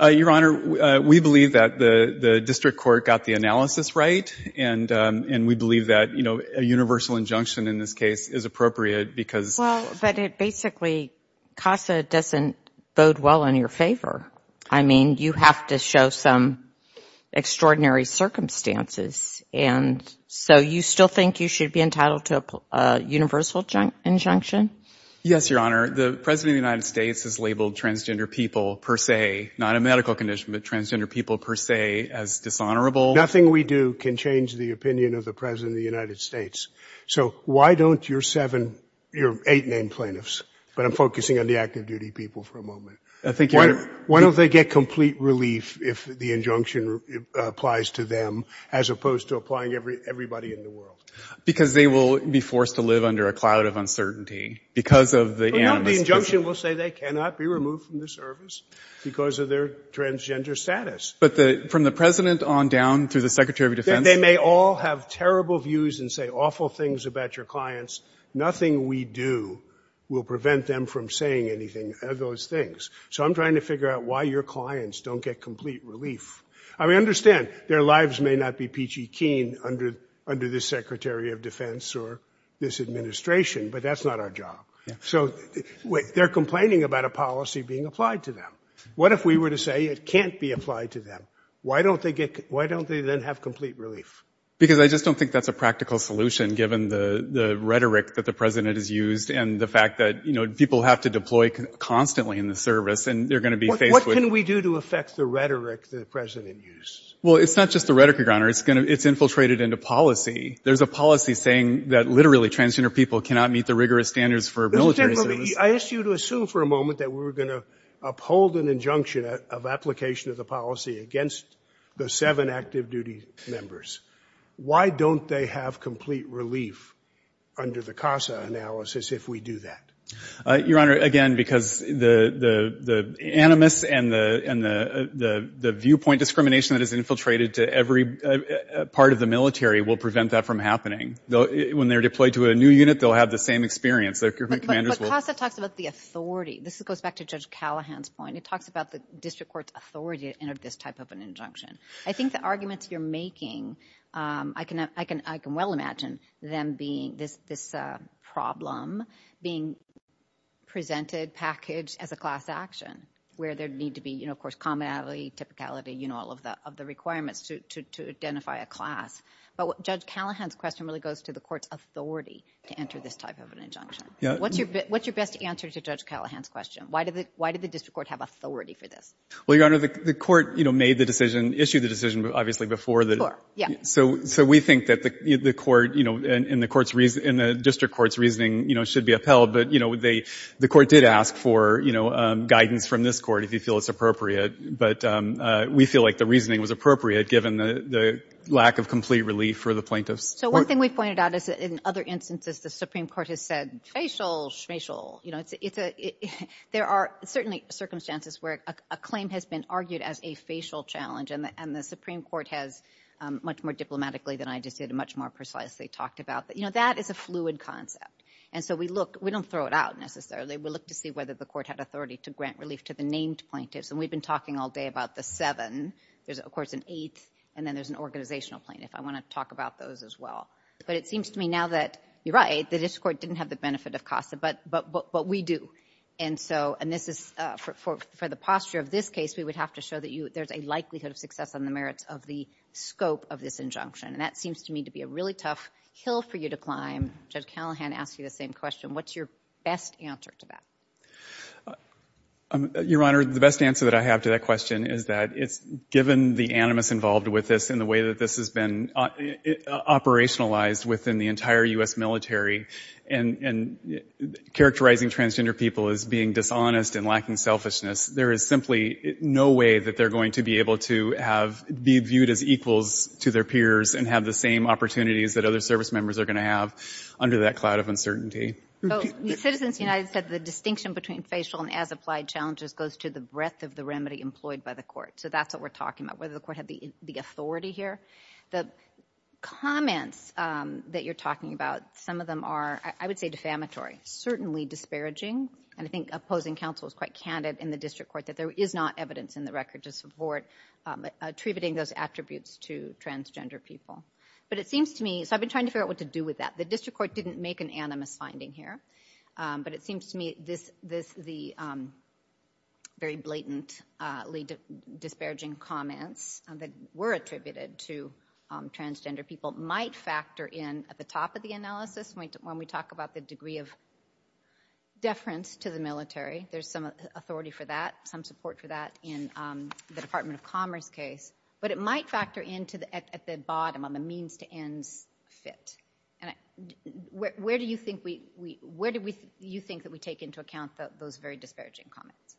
Your Honor, we believe that the district court got the analysis right, and we believe that a universal injunction in this case is appropriate because... Well, but basically, CASA doesn't bode well in your favor. I mean, you have to show some extraordinary circumstances. And so you still think you should be entitled to a universal injunction? Yes, Your Honor. The President of the United States has labeled transgender people per se, not a medical condition, but transgender people per se, as dishonorable. Nothing we do can change the opinion of the President of the United States. So why don't your eight named plaintiffs, but I'm focusing on the active duty people for a moment, why don't they get complete relief if the injunction applies to them as opposed to applying to everybody in the world? Because they will be forced to live under a cloud of uncertainty because of the... The injunction will say they cannot be removed from the service because of their transgender status. But from the President on down to the Secretary of Defense... They may all have terrible views and say awful things about your clients. Nothing we do will prevent them from saying anything of those things. So I'm trying to figure out why your clients don't get complete relief. I mean, understand, their lives may not be peachy keen under this Secretary of Defense or this administration, but that's not our job. So they're complaining about a policy being applied to them. What if we were to say it can't be applied to them? Why don't they then have complete relief? Because I just don't think that's a practical solution given the rhetoric that the President has used and the fact that people have to deploy constantly in the service and they're going to be faced with... What can we do to affect the rhetoric that the President used? Well, it's not just the rhetoric, Your Honor. It's infiltrated into policy. There's a policy saying that literally transgender people cannot meet the rigorous standards for military service. I asked you to assume for a moment that we were going to uphold an injunction of application of the policy against the seven active duty members. Why don't they have complete relief under the CASA analysis if we do that? Your Honor, again, because the animus and the viewpoint discrimination that is infiltrated to every part of the military will prevent that from happening. When they're deployed to a new unit, they'll have the same experience. The CASA talks about the authority. This goes back to Judge Callahan's point. It talks about the district court's authority to enter this type of an injunction. I think the arguments you're making, I can well imagine them being this problem being presented, packaged as a class action where there needs to be, of course, commonality, typicality, all of the requirements to identify a class. But Judge Callahan's question really goes to the court's authority to enter this type of an injunction. What's your best answer to Judge Callahan's question? Why did the district court have authority for this? Your Honor, the court made the decision, issued the decision, obviously, before. So we think that the court and the district court's reasoning should be upheld. But the court did ask for guidance from this court if you feel it's appropriate. But we feel like the reasoning was appropriate given the lack of complete relief for the plaintiffs. One thing we pointed out is that in other instances, the Supreme Court has said, there are certainly circumstances where a claim has been argued as a facial challenge. And the Supreme Court has, much more diplomatically than I just did, much more precisely talked about. But that is a fluid concept. And so we don't throw it out necessarily. We look to see whether the court had authority to grant relief to the named plaintiffs. And we've been talking all day about the seven. There's, of course, an eight, and then there's an organizational plaintiff. I want to talk about those as well. But it seems to me now that you're right. The district court didn't have the benefit of CASA, but we do. And so, and this is for the posture of this case, we would have to show that there's a likelihood of success on the merits of the scope of this injunction. And that seems to me to be a really tough hill for you to climb. Judge Callahan asked you the same question. What's your best answer to that? Your Honor, the best answer that I have to that question is that given the animus involved with this and the way that this has been operationalized within the entire U.S. military and characterizing transgender people as being dishonest and lacking selfishness, there is simply no way that they're going to be able to be viewed as equals to their peers and have the same opportunities that other service members are going to have under that cloud of uncertainty. Citizens United said the distinction between facial and as-applied challenges goes to the breadth of the remedy employed by the court. So that's what we're talking about, whether the court had the authority here. The comments that you're talking about, some of them are, I would say, defamatory, certainly disparaging, and I think opposing counsel is quite candid in the district court that there is not evidence in the record to support attributing those attributes to transgender people. But it seems to me, so I've been trying to figure out what to do with that. The district court didn't make an animus finding here, but it seems to me this is the very blatantly disparaging comments that were attributed to transgender people might factor in at the top of the analysis when we talk about the degree of deference to the military. There's some authority for that, some support for that in the Department of Commerce case. But it might factor in at the bottom on the means to end fit. Where do you think that we take into account those very disparaging comments?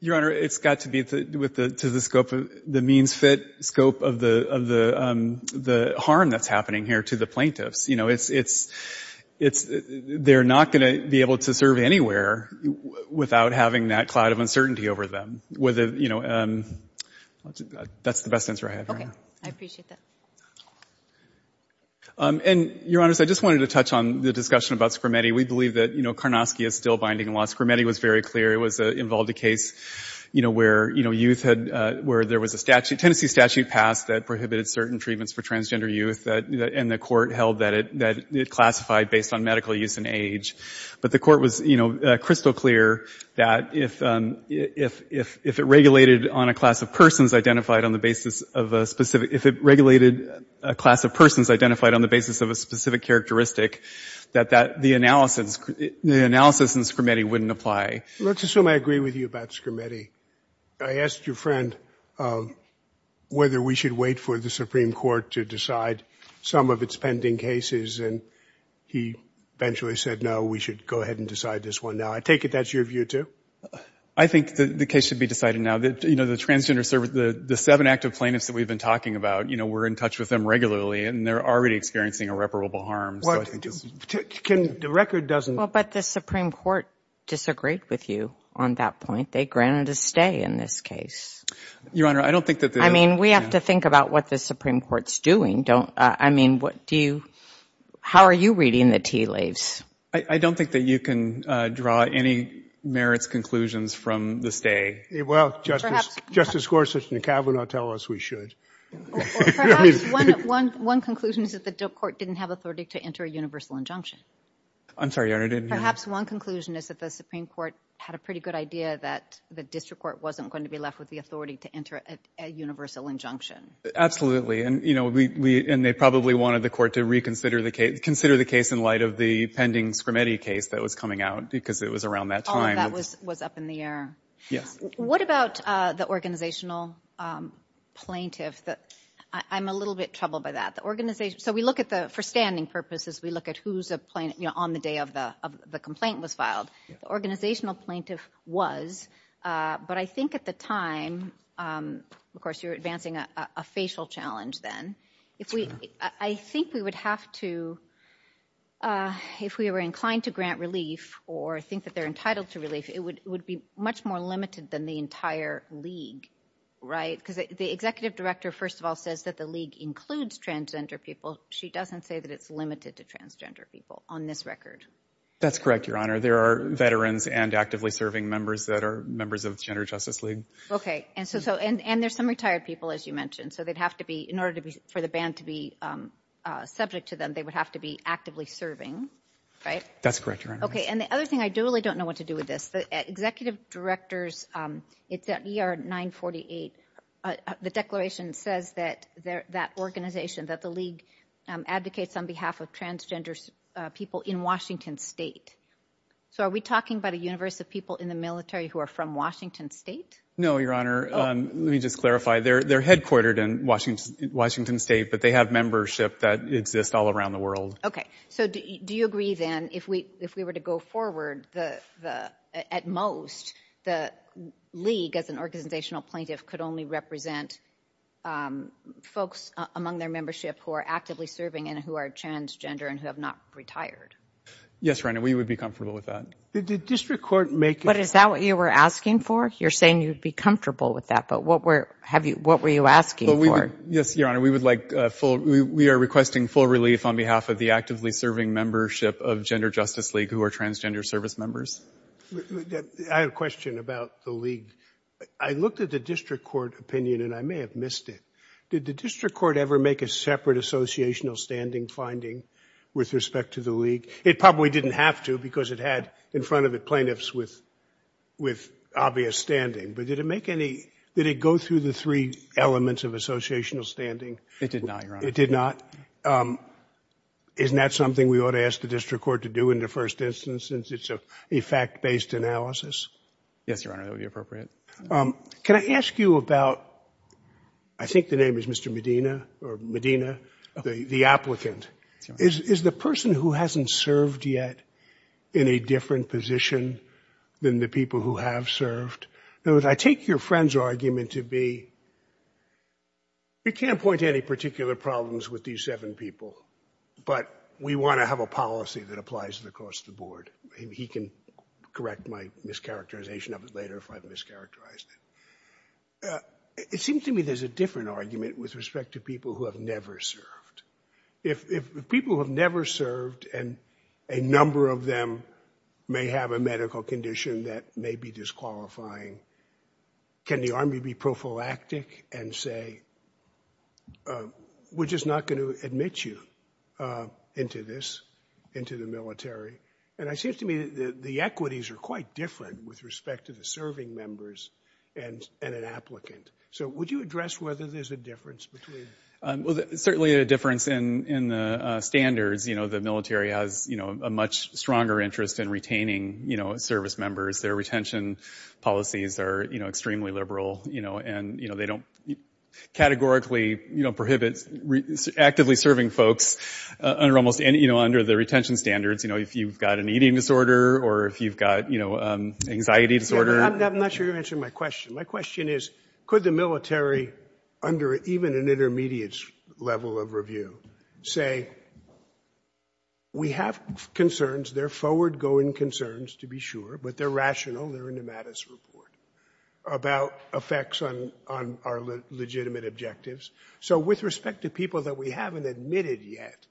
Your Honor, it's got to be to the scope of the means fit, scope of the harm that's happening here to the plaintiffs. They're not going to be able to serve anywhere without having that cloud of uncertainty over them. That's the best answer I have right now. Okay, I appreciate that. Your Honor, I just wanted to touch on the discussion about Scrimetti. We believe that Karnofsky is still binding law. Scrimetti was very clear. It involved a case where there was a Tennessee statute passed that prohibited certain treatments for transgender youth, and the court held that it classified based on medical use and age. But the court was crystal clear that if it regulated on a class of persons identified on the basis of a specific characteristic, that the analysis in Scrimetti wouldn't apply. Let's assume I agree with you about Scrimetti. I asked your friend whether we should wait for the Supreme Court to decide some of its pending cases, and he eventually said, no, we should go ahead and decide this one now. I take it that's your view, too? I think the case should be decided now. The seven active plaintiffs that we've been talking about, we're in touch with them regularly, and they're already experiencing irreparable harm. But the Supreme Court disagreed with you on that point. They granted a stay in this case. We have to think about what the Supreme Court's doing. How are you reading the tea leaves? I don't think that you can draw any merits conclusions from the stay. Justice Gorsuch and Kavanaugh tell us we should. One conclusion is that the court didn't have authority to enter a universal injunction. I'm sorry, Your Honor. Perhaps one conclusion is that the Supreme Court had a pretty good idea that the district court wasn't going to be left with the authority to enter a universal injunction. Absolutely, and they probably wanted the court to reconsider the case in light of the pending Scrimetti case that was coming out because it was around that time. Oh, that was up in the air. What about the organizational plaintiff? I'm a little bit troubled by that. For standing purposes, we look at who on the day of the complaint was filed. The organizational plaintiff was, but I think at the time, of course, you're advancing a facial challenge then. I think we would have to, if we were inclined to grant relief or think that they're entitled to relief, it would be much more limited than the entire league. Because the executive director, first of all, says that the league includes transgender people. She doesn't say that it's limited to transgender people on this record. That's correct, Your Honor. There are veterans and actively serving members that are members of the Gender Justice League. And there's some retired people, as you mentioned. In order for the ban to be subject to them, they would have to be actively serving. That's correct, Your Honor. And the other thing, I really don't know what to do with this, but executive directors, it's at ER 948. The declaration says that that organization, that the league, advocates on behalf of transgender people in Washington State. So are we talking about a universe of people in the military who are from Washington State? No, Your Honor. Let me just clarify. They're headquartered in Washington State, but they have membership that exists all around the world. Okay. So do you agree, then, if we were to go forward, at most, the league, as an organizational plaintiff, could only represent folks among their membership who are actively serving and who are transgender and who have not retired? Yes, Your Honor. We would be comfortable with that. But is that what you were asking for? You're saying you'd be comfortable with that, but what were you asking for? Yes, Your Honor. We would like full – we are requesting full relief on behalf of the actively serving membership of Gender Justice League who are transgender service members. I have a question about the league. I looked at the district court opinion, and I may have missed it. Did the district court ever make a separate associational standing finding with respect to the league? It probably didn't have to because it had, in front of it, plaintiffs with obvious standing. But did it make any – did it go through the three elements of associational standing? It did not, Your Honor. It did not. Isn't that something we ought to ask the district court to do in the first instance since it's a fact-based analysis? Yes, Your Honor. That would be appropriate. Can I ask you about – I think the name is Mr. Medina, or Medina, the applicant. Is the person who hasn't served yet in a different position than the people who have served? In other words, I take your friend's argument to be you can't point to any particular problems with these seven people, but we want to have a policy that applies across the board. He can correct my mischaracterization of it later if I've mischaracterized it. It seems to me there's a different argument with respect to people who have never served. If people who have never served and a number of them may have a medical condition that may be disqualifying, can the Army be prophylactic and say, we're just not going to admit you into this, into the military? And it seems to me the equities are quite different with respect to the serving members and an applicant. So would you address whether there's a difference between – Well, there's certainly a difference in the standards. The military has a much stronger interest in retaining service members. Their retention policies are extremely liberal, and they don't categorically prohibit actively serving folks under the retention standards if you've got an eating disorder or if you've got anxiety disorder. I'm not sure you're answering my question. My question is, could the military, under even an intermediates level of review, say we have concerns, they're forward-going concerns to be sure, but they're rational, they're in the Mattis report, about effects on our legitimate objectives. So with respect to people that we haven't admitted yet,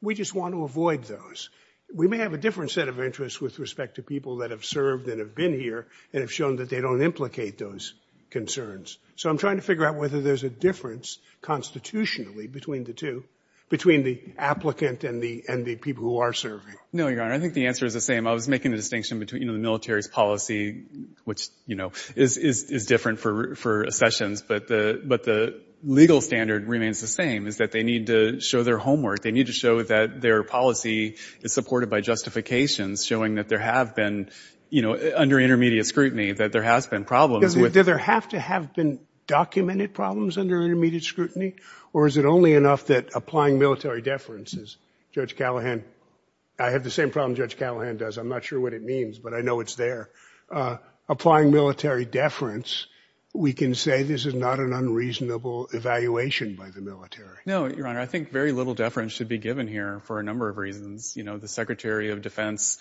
we just want to avoid those. We may have a different set of interests with respect to people that have served and have been here and have shown that they don't implicate those concerns. So I'm trying to figure out whether there's a difference constitutionally between the two, between the applicant and the people who are serving. No, Your Honor, I think the answer is the same. I was making the distinction between the military's policy, which is different for sessions, but the legal standard remains the same, is that they need to show their homework. They need to show that their policy is supported by justification, showing that there have been, under intermediate scrutiny, that there have been problems. Do there have to have been documented problems under intermediate scrutiny? Or is it only enough that applying military deference, as Judge Callahan, I have the same problem Judge Callahan does, I'm not sure what it means, but I know it's there. Applying military deference, we can say this is not an unreasonable evaluation by the military. No, Your Honor, I think very little deference should be given here for a number of reasons. The Secretary of Defense,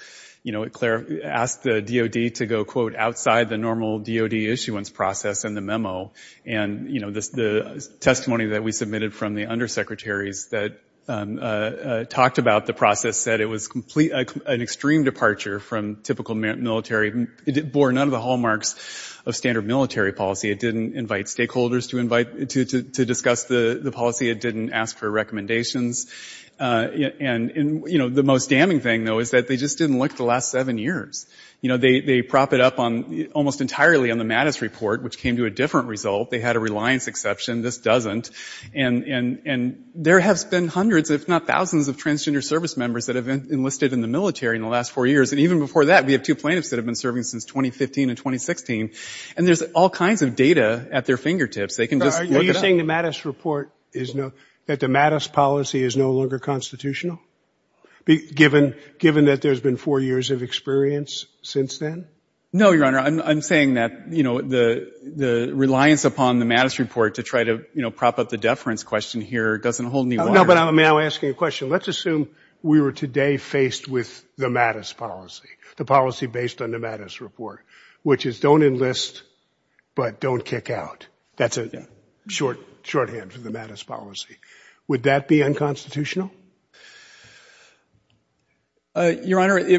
Claire, asked the DOD to go, quote, outside the normal DOD issuance process in the memo. And, you know, the testimony that we submitted from the undersecretaries that talked about the process said it was an extreme departure from typical military. It bore none of the hallmarks of standard military policy. It didn't invite stakeholders to discuss the policy. It didn't ask for recommendations. And, you know, the most damning thing, though, is that they just didn't look the last seven years. You know, they prop it up almost entirely on the Mattis report, which came to a different result. They had a reliance exception. This doesn't. And there have been hundreds, if not thousands, of transgender service members that have enlisted in the military in the last four years. And even before that, we have two plaintiffs that have been serving since 2015 and 2016. And there's all kinds of data at their fingertips. They can just look at that. Are you saying the Mattis report is that the Mattis policy is no longer constitutional, given that there's been four years of experience since then? No, Your Honor. The reliance upon the Mattis report to try to prop up the deference question here doesn't hold any water. No, but may I ask you a question? Let's assume we were today faced with the Mattis policy, the policy based on the Mattis report, which is don't enlist, but don't kick out. That's a shorthand for the Mattis policy. Would that be unconstitutional? Your Honor, we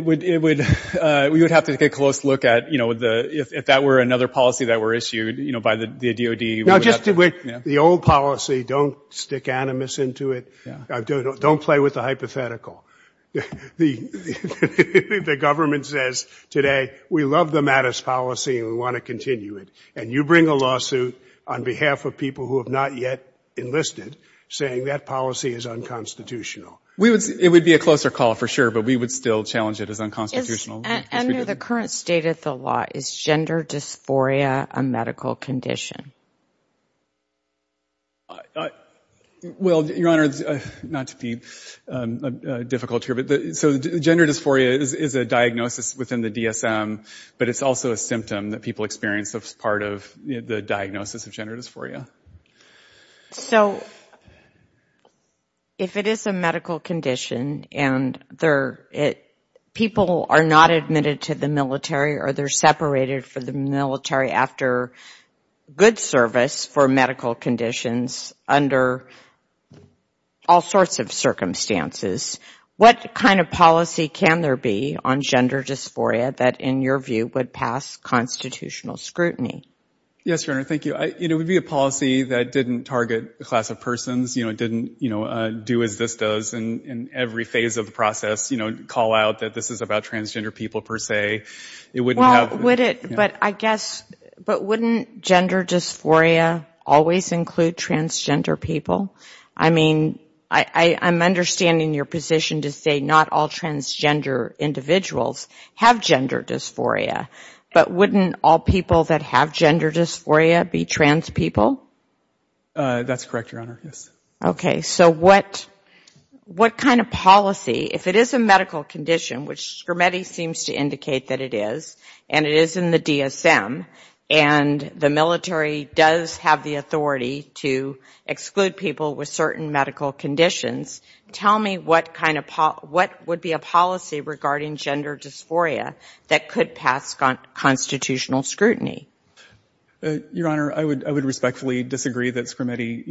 would have to take a close look at, if that were another policy that were issued by the DOD. No, just the old policy. Don't stick animus into it. Don't play with the hypothetical. The government says today, we love the Mattis policy and we want to continue it. And you bring a lawsuit on behalf of people who have not yet enlisted, saying that policy is unconstitutional. It would be a closer call for sure, but we would still challenge it as unconstitutional. Under the current state of the law, is gender dysphoria a medical condition? Well, Your Honor, not to be difficult here, gender dysphoria is a diagnosis within the DSM, but it's also a symptom that people experience as part of the diagnosis of gender dysphoria. So, if it is a medical condition and people are not admitted to the military or they're separated from the military after good service for medical conditions under all sorts of circumstances, what kind of policy can there be on gender dysphoria that in your view would pass constitutional scrutiny? Yes, Your Honor, thank you. It would be a policy that didn't target a class of persons, didn't do as this does in every phase of the process, call out that this is about transgender people per se. But wouldn't gender dysphoria always include transgender people? I mean, I'm understanding your position to say not all transgender individuals have gender dysphoria, but wouldn't all people that have gender dysphoria be trans people? That's correct, Your Honor. Okay, so what kind of policy, if it is a medical condition, which Scrimeti seems to indicate that it is, and it is in the DSM, and the military does have the authority to exclude people with certain medical conditions, tell me what would be a policy regarding gender dysphoria that could pass constitutional scrutiny? Your Honor, I would respectfully disagree that Scrimeti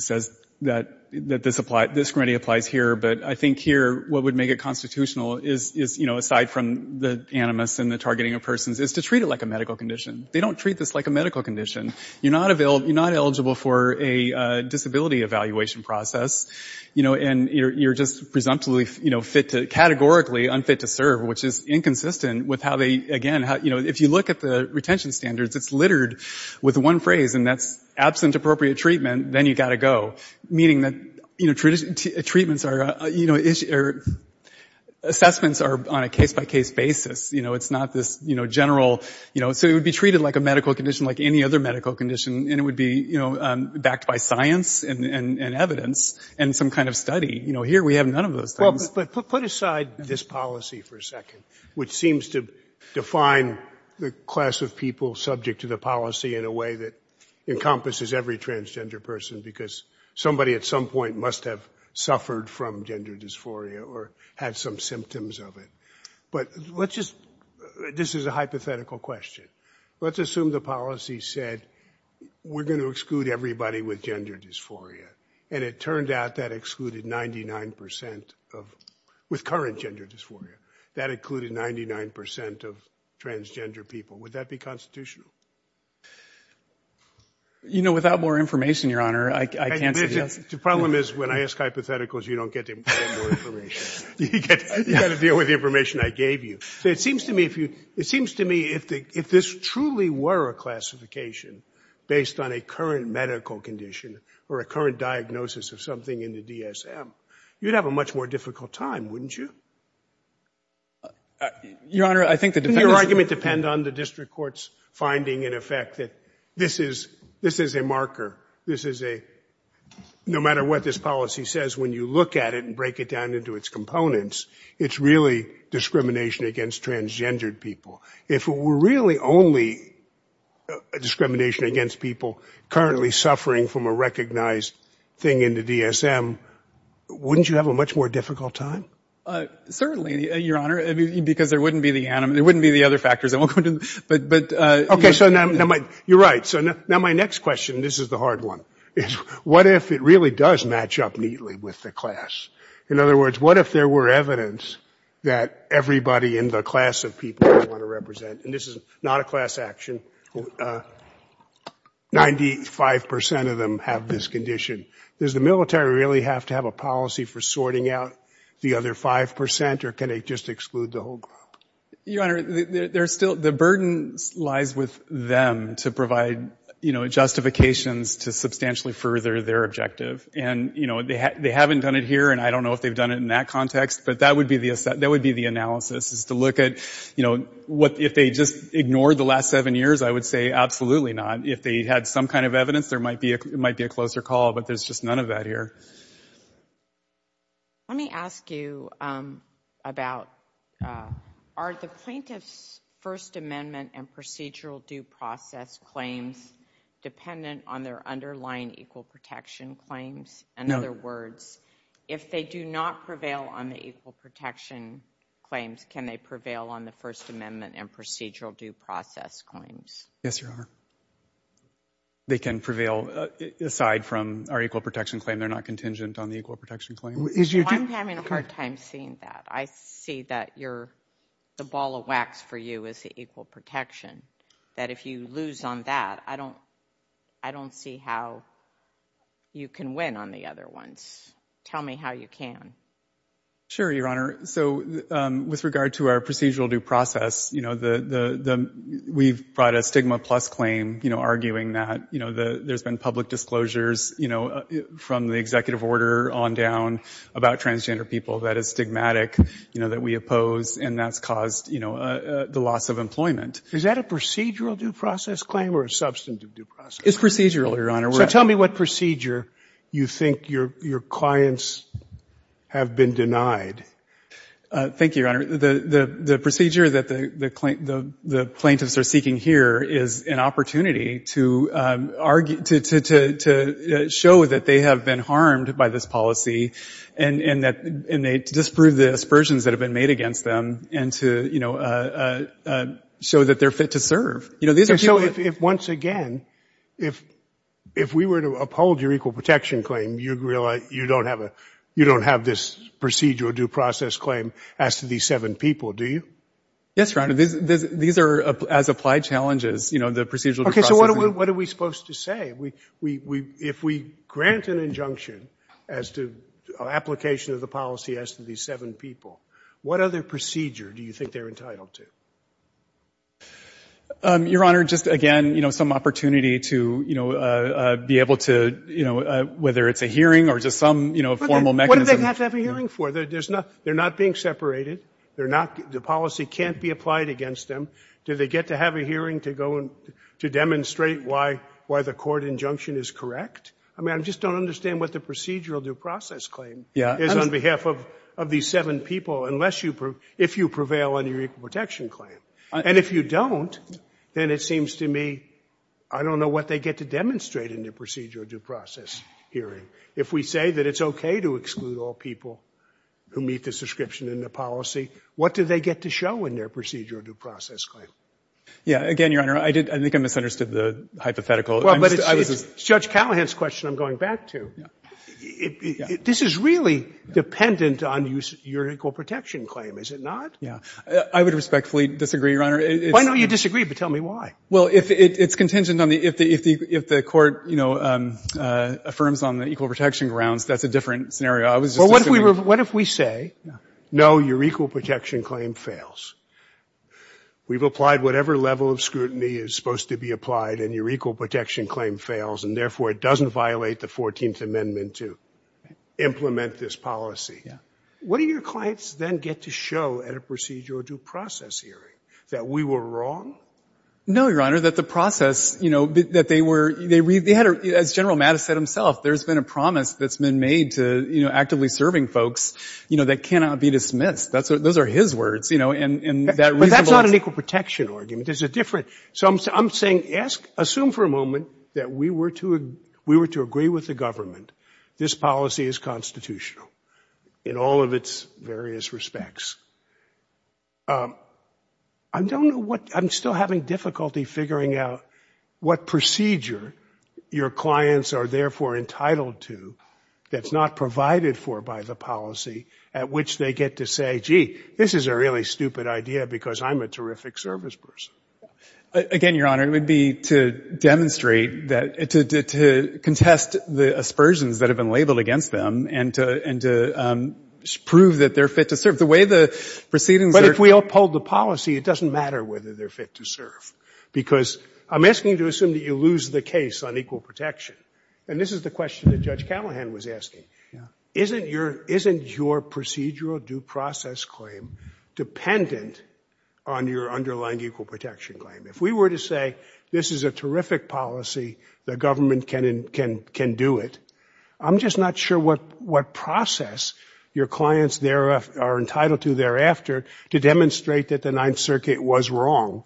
says that this applies here, but I think here what would make it constitutional is, aside from the animus and the targeting of persons, is to treat it like a medical condition. They don't treat this like a medical condition. You're not eligible for a disability evaluation process, and you're just presumptively, categorically unfit to serve, which is inconsistent with how they, again, if you look at the retention standards, it's littered with one phrase, and that's absent appropriate treatment, then you've got to go, meaning that assessments are on a case-by-case basis. It's not this general, so it would be treated like a medical condition, like any other medical condition, and it would be backed by science and evidence and some kind of study. Here we have none of those things. Well, but put aside this policy for a second, which seems to define the class of people subject to the policy in a way that encompasses every transgender person because somebody at some point must have suffered from gender dysphoria or had some symptoms of it, but let's just, this is a hypothetical question. Let's assume the policy said we're going to exclude everybody with gender dysphoria, and it turned out that excluded 99% of, with current gender dysphoria, that included 99% of transgender people. Would that be constitutional? You know, without more information, Your Honor, I can't give you that. The problem is when I ask hypotheticals, you don't get any more information. You've got to deal with the information I gave you. It seems to me if this truly were a classification based on a current medical condition or a current diagnosis of something in the DSM, you'd have a much more difficult time, wouldn't you? Your Honor, I think the difference is... the District Court's finding, in effect, that this is a marker. This is a... no matter what this policy says, when you look at it and break it down into its components, it's really discrimination against transgendered people. If it were really only discrimination against people currently suffering from a recognized thing in the DSM, wouldn't you have a much more difficult time? Certainly, Your Honor, because there wouldn't be the other factors that will come to... You're right. My next question, and this is the hard one, is what if it really does match up neatly with the class? In other words, what if there were evidence that everybody in the class of people you want to represent, and this is not a class action, 95% of them have this condition. Does the military really have to have a policy for sorting out the other 5% or can they just exclude the whole group? Your Honor, the burden lies with them to provide justifications to substantially further their objective, and they haven't done it here, and I don't know if they've done it in that context, but that would be the analysis, is to look at what... If they just ignored the last seven years, I would say absolutely not. If they had some kind of evidence, there might be a closer call, but there's just none of that here. Let me ask you about... Are the plaintiff's First Amendment and procedural due process claims dependent on their underlying equal protection claims? In other words, if they do not prevail on the equal protection claims, can they prevail on the First Amendment and procedural due process claims? Yes, Your Honor. They can prevail. Aside from our equal protection claim, are they contingent on the equal protection claim? I'm having a hard time seeing that. I see that the ball of wax for you is the equal protection, that if you lose on that, I don't see how you can win on the other ones. Tell me how you can. Sure, Your Honor. With regard to our procedural due process, we've brought a stigma plus claim, arguing that there's been public disclosures from the executive order on down about transgender people, that it's stigmatic, that we oppose, and that's caused the loss of employment. Is that a procedural due process claim or a substantive due process claim? It's procedural, Your Honor. Tell me what procedure you think your clients have been denied. Thank you, Your Honor. The procedure that the plaintiffs are seeking here is an opportunity to show that they have been harmed by this policy and they disprove the aspersions that have been made against them and to show that they're fit to serve. Once again, if we were to uphold your equal protection claim, you don't have this procedural due process claim as to these seven people, do you? Yes, Your Honor. These are as applied challenges, the procedural due process claim. Okay, so what are we supposed to say? If we grant an injunction as to application of the policy as to these seven people, what other procedure do you think they're entitled to? Your Honor, just again, some opportunity to be able to, whether it's a hearing or just some formal mechanism. What do they have to have a hearing for? They're not being separated. The policy can't be applied against them. Do they get to have a hearing to demonstrate why the court injunction is correct? I just don't understand what the procedural due process claim is on behalf of these seven people if you prevail on your equal protection claim. And if you don't, then it seems to me I don't know what they get to demonstrate in their procedural due process hearing. If we say that it's okay to exclude all people who meet this description in the policy, what do they get to show in their procedural due process claim? Yeah, again, Your Honor, I think I misunderstood the hypothetical. But it's Judge Callahan's question I'm going back to. This is really dependent on your equal protection claim, is it not? Yeah, I would respectfully disagree, Your Honor. Why not? You disagreed, but tell me why. Well, it's contingent on if the court, you know, affirms on the equal protection grounds, that's a different scenario. But what if we say, no, your equal protection claim fails. We've applied whatever level of scrutiny is supposed to be applied and your equal protection claim fails and therefore it doesn't violate the 14th Amendment to implement this policy. What do your clients then get to show at a procedural due process hearing? That we were wrong? No, Your Honor, that the process, that they were, as General Mattis said himself, there's been a promise that's been made that cannot be dismissed. Those are his words. But that's not an equal protection argument. There's a different, so I'm saying assume for a moment that we were to agree with the government. This policy is constitutional in all of its various respects. I don't know what, I'm still having difficulty figuring out what procedure your clients are therefore entitled to that's not provided for by the policy at which they get to say, gee, this is a really stupid idea because I'm a terrific service person. Again, Your Honor, it would be to demonstrate that, to contest the aspersions that have been labeled against them and to prove that they're fit to serve. The way the proceedings are. But if we uphold the policy, it doesn't matter whether they're fit to serve because I'm asking you to assume that you lose the case on equal protection and this is the question that Judge Callahan was asking. Is your procedural due process claim dependent on your underlying equal protection claim? If we were to say, this is a terrific policy, the government can do it. I'm just not sure what process your clients are entitled to thereafter to demonstrate that the Ninth Circuit was wrong.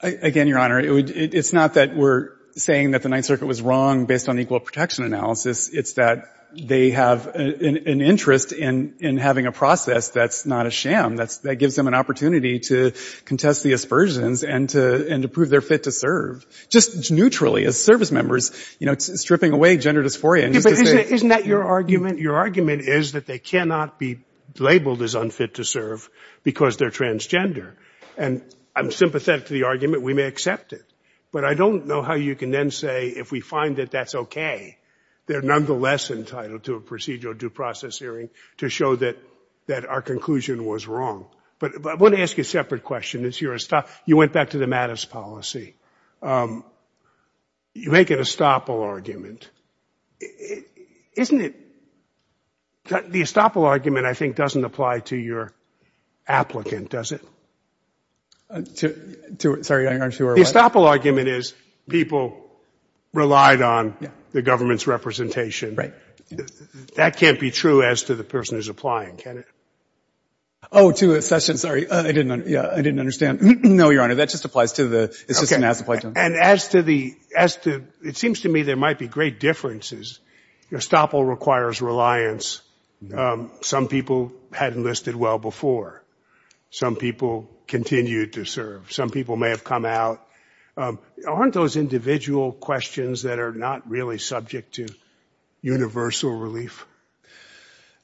Again, Your Honor, it's not that we're saying that the Ninth Circuit was wrong based on equal protection analysis. It's that they have an interest in having a process that's not a sham. That gives them an opportunity to contest the aspersions and to prove they're fit to serve. Just neutrally as service members, stripping away gender dysphoria. Isn't that your argument? Your argument is that they cannot be labeled as unfit to serve because they're transgender. I'm sympathetic to the argument. We may accept it. That's okay. They're nonetheless entitled to a procedural due process hearing to show that our conclusion was wrong. I want to ask you a separate question. You went back to the Mattis policy. You make an estoppel argument. The estoppel argument, I think, doesn't apply to your applicant, does it? The estoppel argument is people relied on the government's representation. That can't be true as to the person who's applying. I didn't understand. No, Your Honor. That just applies to the assistant. It seems to me there might be great differences. Estoppel requires reliance. Some people hadn't listed well before. Some people continue to serve. Some people may have come out. Aren't those individual questions that are not really subject to universal relief?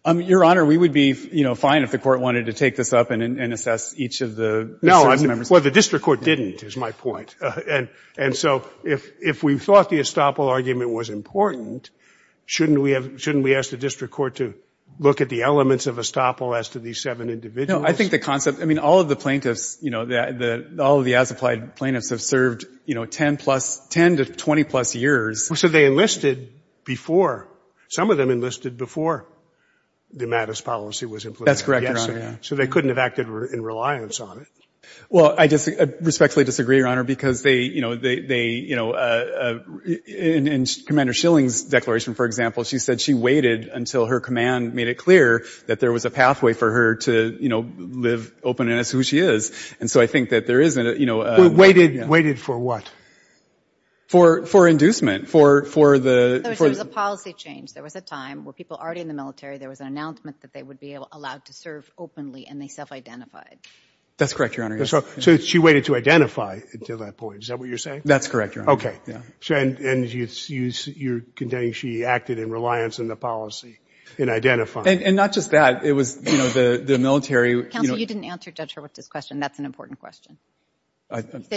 Your Honor, we would be fine if the court wanted to take this up and assess each of the members. No, the district court didn't, is my point. If we thought the estoppel argument was important, shouldn't we ask the district court to look at the elements of estoppel as to these seven individuals? All of the plaintiffs, all of the applied plaintiffs have served 10 to 20 plus years So they enlisted before. Some of them enlisted before the mattis policy was implemented. That's correct, Your Honor. So they couldn't have acted in reliance on it. Well, I respectfully disagree, Your Honor, because they, you know, in Commander Schilling's declaration, for example, she said she waited until her command made it clear that there was a pathway for her to live open and as to who she is. And so I think that there is... Waited for what? For inducement, for the... So it was a policy change. There was a time where people already in the military, there was an announcement that they would be allowed to serve openly and they self-identified. That's correct, Your Honor. So she waited to identify until that point. Is that what you're saying? That's correct, Your Honor. Okay, and you're containing she acted in reliance on the policy in identifying. And not just that. It was, you know, the military... You didn't answer, Judge, her question. That's an important question.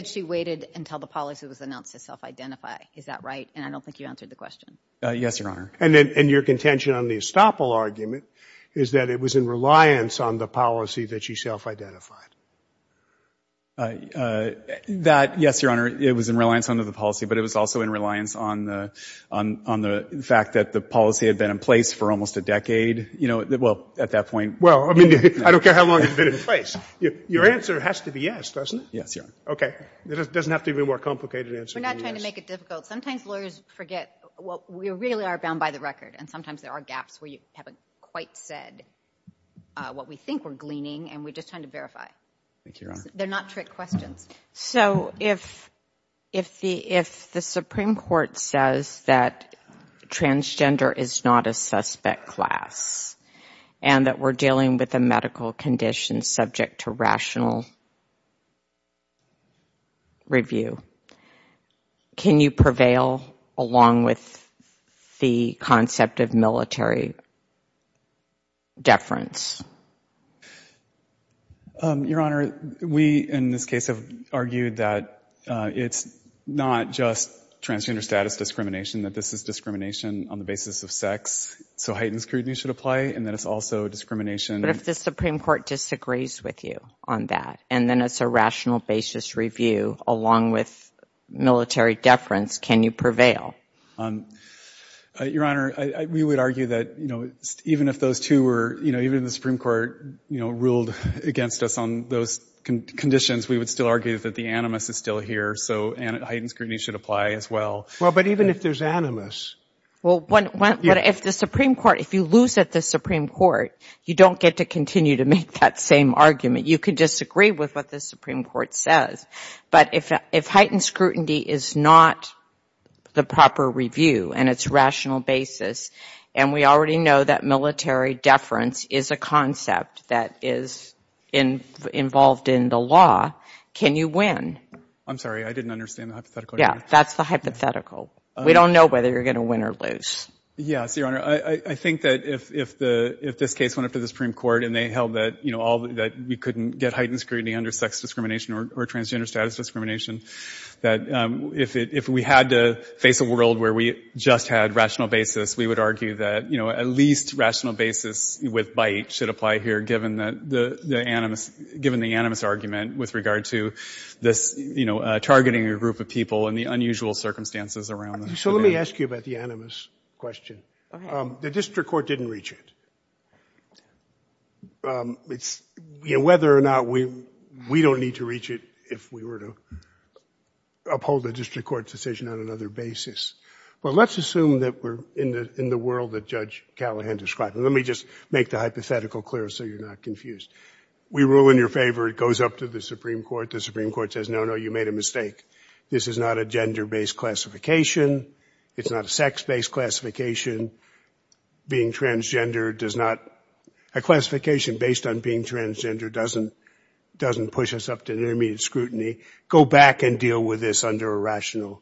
She waited until the policy was announced to self-identify. Is that right? And I don't think you answered the question. Yes, Your Honor. And your contention on the estoppel argument is that it was in reliance on the policy that she self-identified. That, yes, Your Honor, it was in reliance on the policy, but it was also in reliance on, you know, well, at that point... Well, I mean, I don't care how long you've been in place. Your answer has to be yes, doesn't it? Yes, Your Honor. Okay, it doesn't have to be a more complicated answer than yes. We're not trying to make it difficult. Sometimes lawyers forget we really are bound by the record and sometimes there are gaps where you haven't quite said what we think we're gleaning and we're just trying to verify. They're not trick questions. So if the Supreme Court says that transgender is not a suspect class and that we're dealing with a medical condition subject to rational review, can you prevail along with the concept of military deference? Your Honor, we, in this case, argued that it's not just transgender status discrimination, that this is discrimination on the basis of sex, so heightened scrutiny should apply and that it's also discrimination... But if the Supreme Court disagrees with you on that and then it's a rational basis review along with military deference, can you prevail? Your Honor, we would argue that, you know, even if those two were... You know, even if the Supreme Court, you know, ruled against us on those conditions, we would still argue that the animus is still here, so heightened scrutiny should apply as well. Well, but even if there's animus... Well, if the Supreme Court, if you lose at the Supreme Court, you don't get to continue to make that same argument. You can disagree with what the Supreme Court says, but if heightened scrutiny is not the proper review and it's a rational basis and we already know that military deference is a concept that is involved in the law, can you win? I'm sorry, I didn't understand the hypothetical. Yeah, that's the hypothetical. We don't know whether you're going to win or lose. Yes, Your Honor, I think that if this case went up to the Supreme Court and they held that, you know, you couldn't get heightened scrutiny under sex discrimination or transgender status discrimination, that if we had to face a world where we just had rational basis, we would argue that, you know, at least rational basis with bite given the animus argument with regard to this, you know, targeting a group of people and the unusual circumstances around them. So let me ask you about the animus question. The district court didn't reach it. You know, whether or not we don't need to reach it if we were to uphold a district court decision on another basis. Well, let's assume that we're in the world that Judge Callahan described. Let me just make the hypothetical clear so you're not confused. If you're in favor, it goes up to the Supreme Court. The Supreme Court says, no, no, you made a mistake. This is not a gender-based classification. It's not a sex-based classification. Being transgender does not... A classification based on being transgender doesn't push us up to intermediate scrutiny. Go back and deal with this under a rational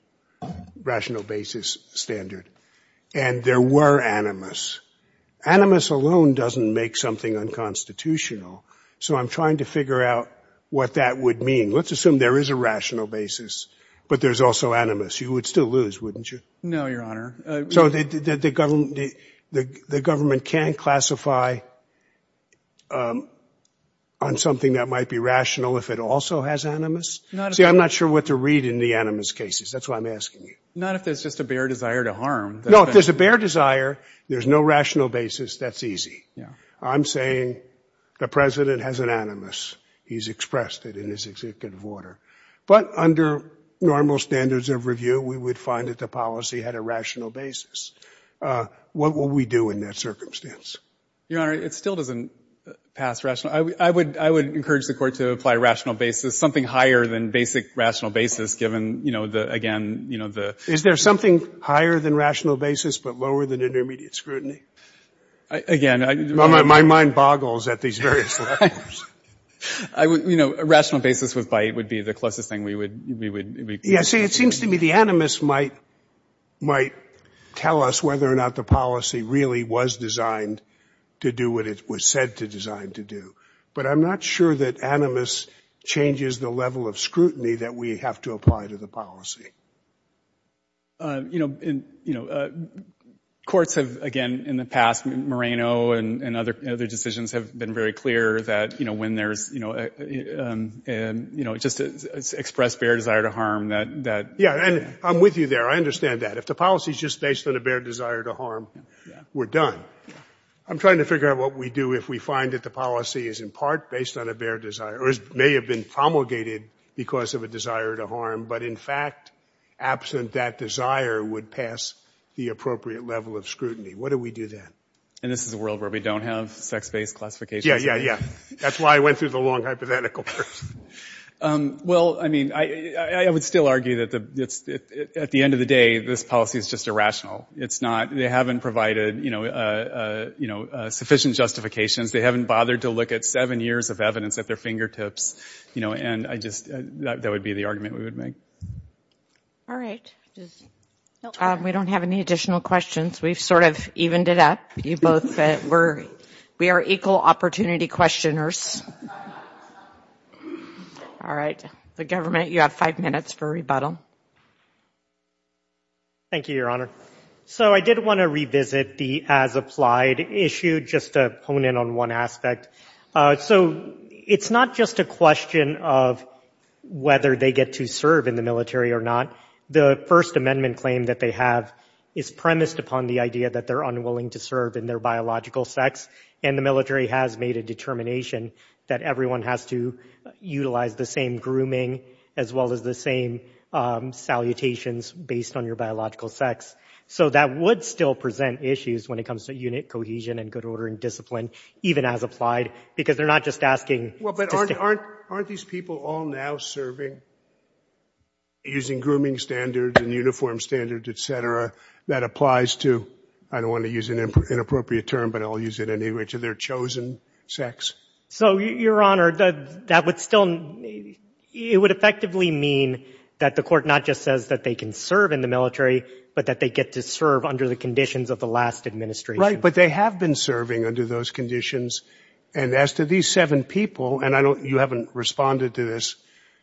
basis standard. And there were animus. Animus alone doesn't make something unconstitutional. Let's figure out what that would mean. Let's assume there is a rational basis, but there's also animus. You would still lose, wouldn't you? No, Your Honor. So the government can classify on something that might be rational if it also has animus? See, I'm not sure what to read in the animus cases. That's why I'm asking you. Not if it's just a bare desire to harm. No, if there's a bare desire, there's no rational basis, that's easy. He's expressed it in his executive order. But under normal standards of review, we would find that the policy had a rational basis. What will we do in that circumstance? Your Honor, it still doesn't pass rational. I would encourage the court to apply a rational basis, something higher than basic rational basis, given, again, the... Is there something higher than rational basis but lower than intermediate scrutiny? Again, I'm... My mind boggles at these various questions. You know, a rational basis would be the closest thing we would... Yeah, see, it seems to me the animus might tell us whether or not the policy really was designed to do what it was said to design to do. But I'm not sure that animus changes the level of scrutiny that we have to apply to the policy. You know, courts have, again, in the past, Moreno and other decisions have been very clear that, you know, when there's, you know... And, you know, just express bare desire to harm that... Yeah, and I'm with you there. I understand that. If the policy is just based on a bare desire to harm, we're done. I'm trying to figure out what we do if we find that the policy is, in part, based on a bare desire or may have been promulgated because of a desire to harm, but, in fact, absent that desire would pass the appropriate level of scrutiny and justification. Yeah, yeah, yeah. That's why I went through the long hypothetical first. Well, I mean, I would still argue that at the end of the day, this policy is just irrational. It's not... They haven't provided, you know, sufficient justifications. They haven't bothered to look at seven years of evidence at their fingertips, you know, and that would be the argument we would make. Thank you. Any other opportunity questioners? All right. The government, you have five minutes for rebuttal. Thank you, Your Honor. So I did want to revisit the as applied issue just to hone in on one aspect. So it's not just a question of whether they get to serve in the military or not. The First Amendment claim that they have is premised upon the idea that they're made a determination that everyone has to utilize the same grooming as well as the same salutations based on your biological sex. So that would still present issues when it comes to unit cohesion and good order and discipline, even as applied, because they're not just asking. But aren't aren't aren't these people all now serving? Using grooming standards and uniform standards, et cetera, that applies to. I don't want to use an inappropriate term, but I'll use it anyway to their chosen sex. So, Your Honor, that would still it would effectively mean that the court not just says that they can serve in the military, but that they get to serve under the conditions of the last administration. But they have been serving under those conditions. And as to these seven people and I don't you haven't responded to this.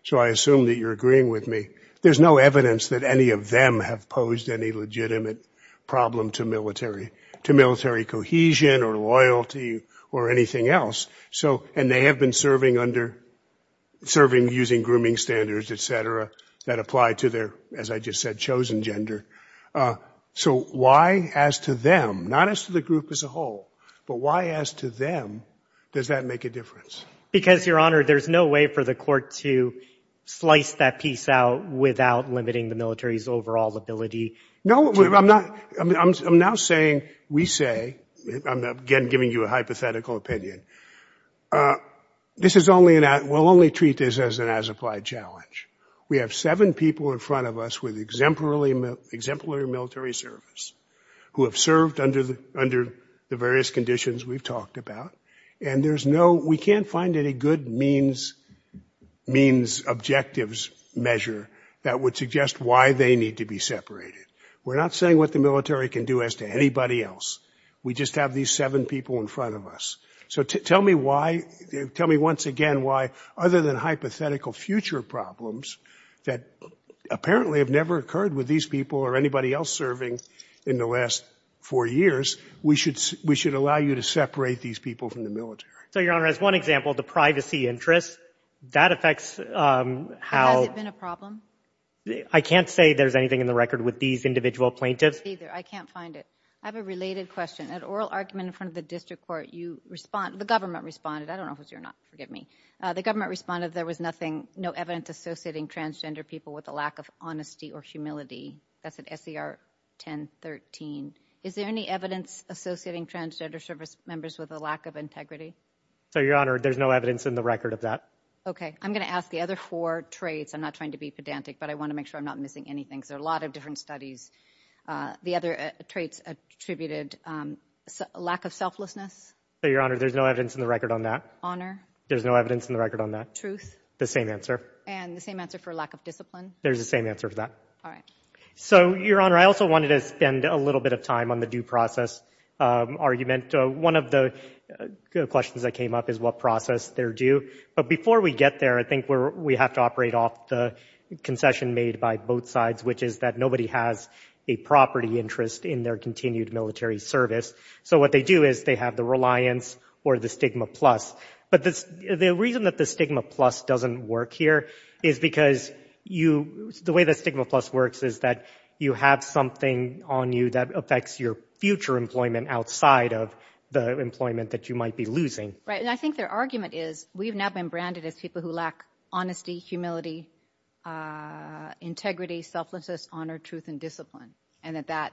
So I assume that you're agreeing with me. There's no evidence that any of them have posed any legitimate problem to military to military cohesion or loyalty or anything else. So and they have been serving under serving using grooming standards, et cetera, that apply to their, as I just said, chosen gender. So why, as to them, not as the group as a whole, but why, as to them, does that make a difference? Because, Your Honor, there's no way for the court to slice that piece out without limiting the military's overall ability. No, I'm not. I'm now saying we say I'm again giving you a high hypothetical opinion. This is only that will only treat this as an as applied challenge. We have seven people in front of us with exemplary, exemplary military service who have served under the under the various conditions we've talked about. And there's no we can't find any good means means objectives measure that would suggest why they need to be separated. We're not saying what the military can do as to anybody else. We just have these seven people in front of us. So tell me why. Tell me once again why other than hypothetical future problems that apparently have never occurred with these people or anybody else serving in the last four years. We should we should allow you to separate these people from the military. So, Your Honor, as one example, the privacy interest that affects how it's been a problem. I can't say there's anything in the record with these individual plaintiffs either. I can't find it. I have a related question. An oral argument in front of the district court. You respond. The government responded. I don't know if you're not forgive me. The government responded. There was nothing. No evidence associating transgender people with a lack of honesty or humility. That's an FDR 10 13. Is there any evidence associating transgender service members with a lack of integrity? So, Your Honor, there's no evidence in the record of that. OK, I'm going to ask the other four traits. I'm not trying to be pedantic, but I want to make sure I'm not missing anything. There are a lot of different studies. The other traits attributed to a lack of trustworthiness. So, Your Honor, there's no evidence in the record on that. There's no evidence in the record on that. Truth. The same answer. And the same answer for a lack of discipline. There's the same answer for that. All right. So, Your Honor, I also wanted to spend a little bit of time on the due process argument. One of the questions that came up is what process they're due. But before we get there, I think we have to operate off the concession made by both sides, which is that nobody has a property interest in their continued military service. So, what they do is they have the reliance or the stigma plus. But the reason that the stigma plus doesn't work here is because the way the stigma plus works is that you have something on you that affects your future employment outside of the employment that you might be losing. Right. And I think their argument is we've now been branded as people who lack honesty, humility, integrity, selflessness, honor, truth, and discipline. And that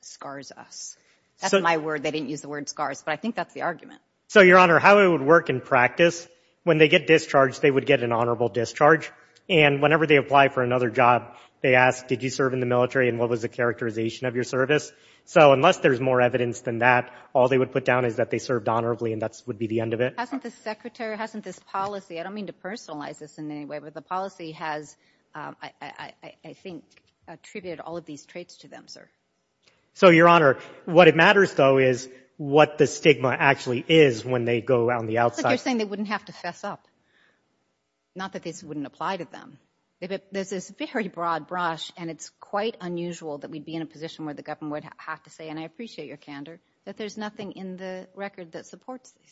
scars us. So, Your Honor, I think that's my word. I didn't use the word scars, but I think that's the argument. So, Your Honor, how it would work in practice, when they get discharged, they would get an honorable discharge. And whenever they apply for another job, they ask, did you serve in the military and what was the characterization of your service? So, unless there's more evidence than that, all they would put down is that they served honorably and that would be the end of it. Hasn't this secretary, hasn't this policy, I don't mean to personalize this in any way, but the policy has, I think, attributed all of these traits to them, sir. So, Your Honor, what if it matters, though, is what the stigma actually is when they go around the outside. But they're saying they wouldn't have to fess up. Not that this wouldn't apply to them. There's this very broad brush and it's quite unusual that we'd be in a position where the government would have to say, and I appreciate your candor, that there's nothing in the record that supports it.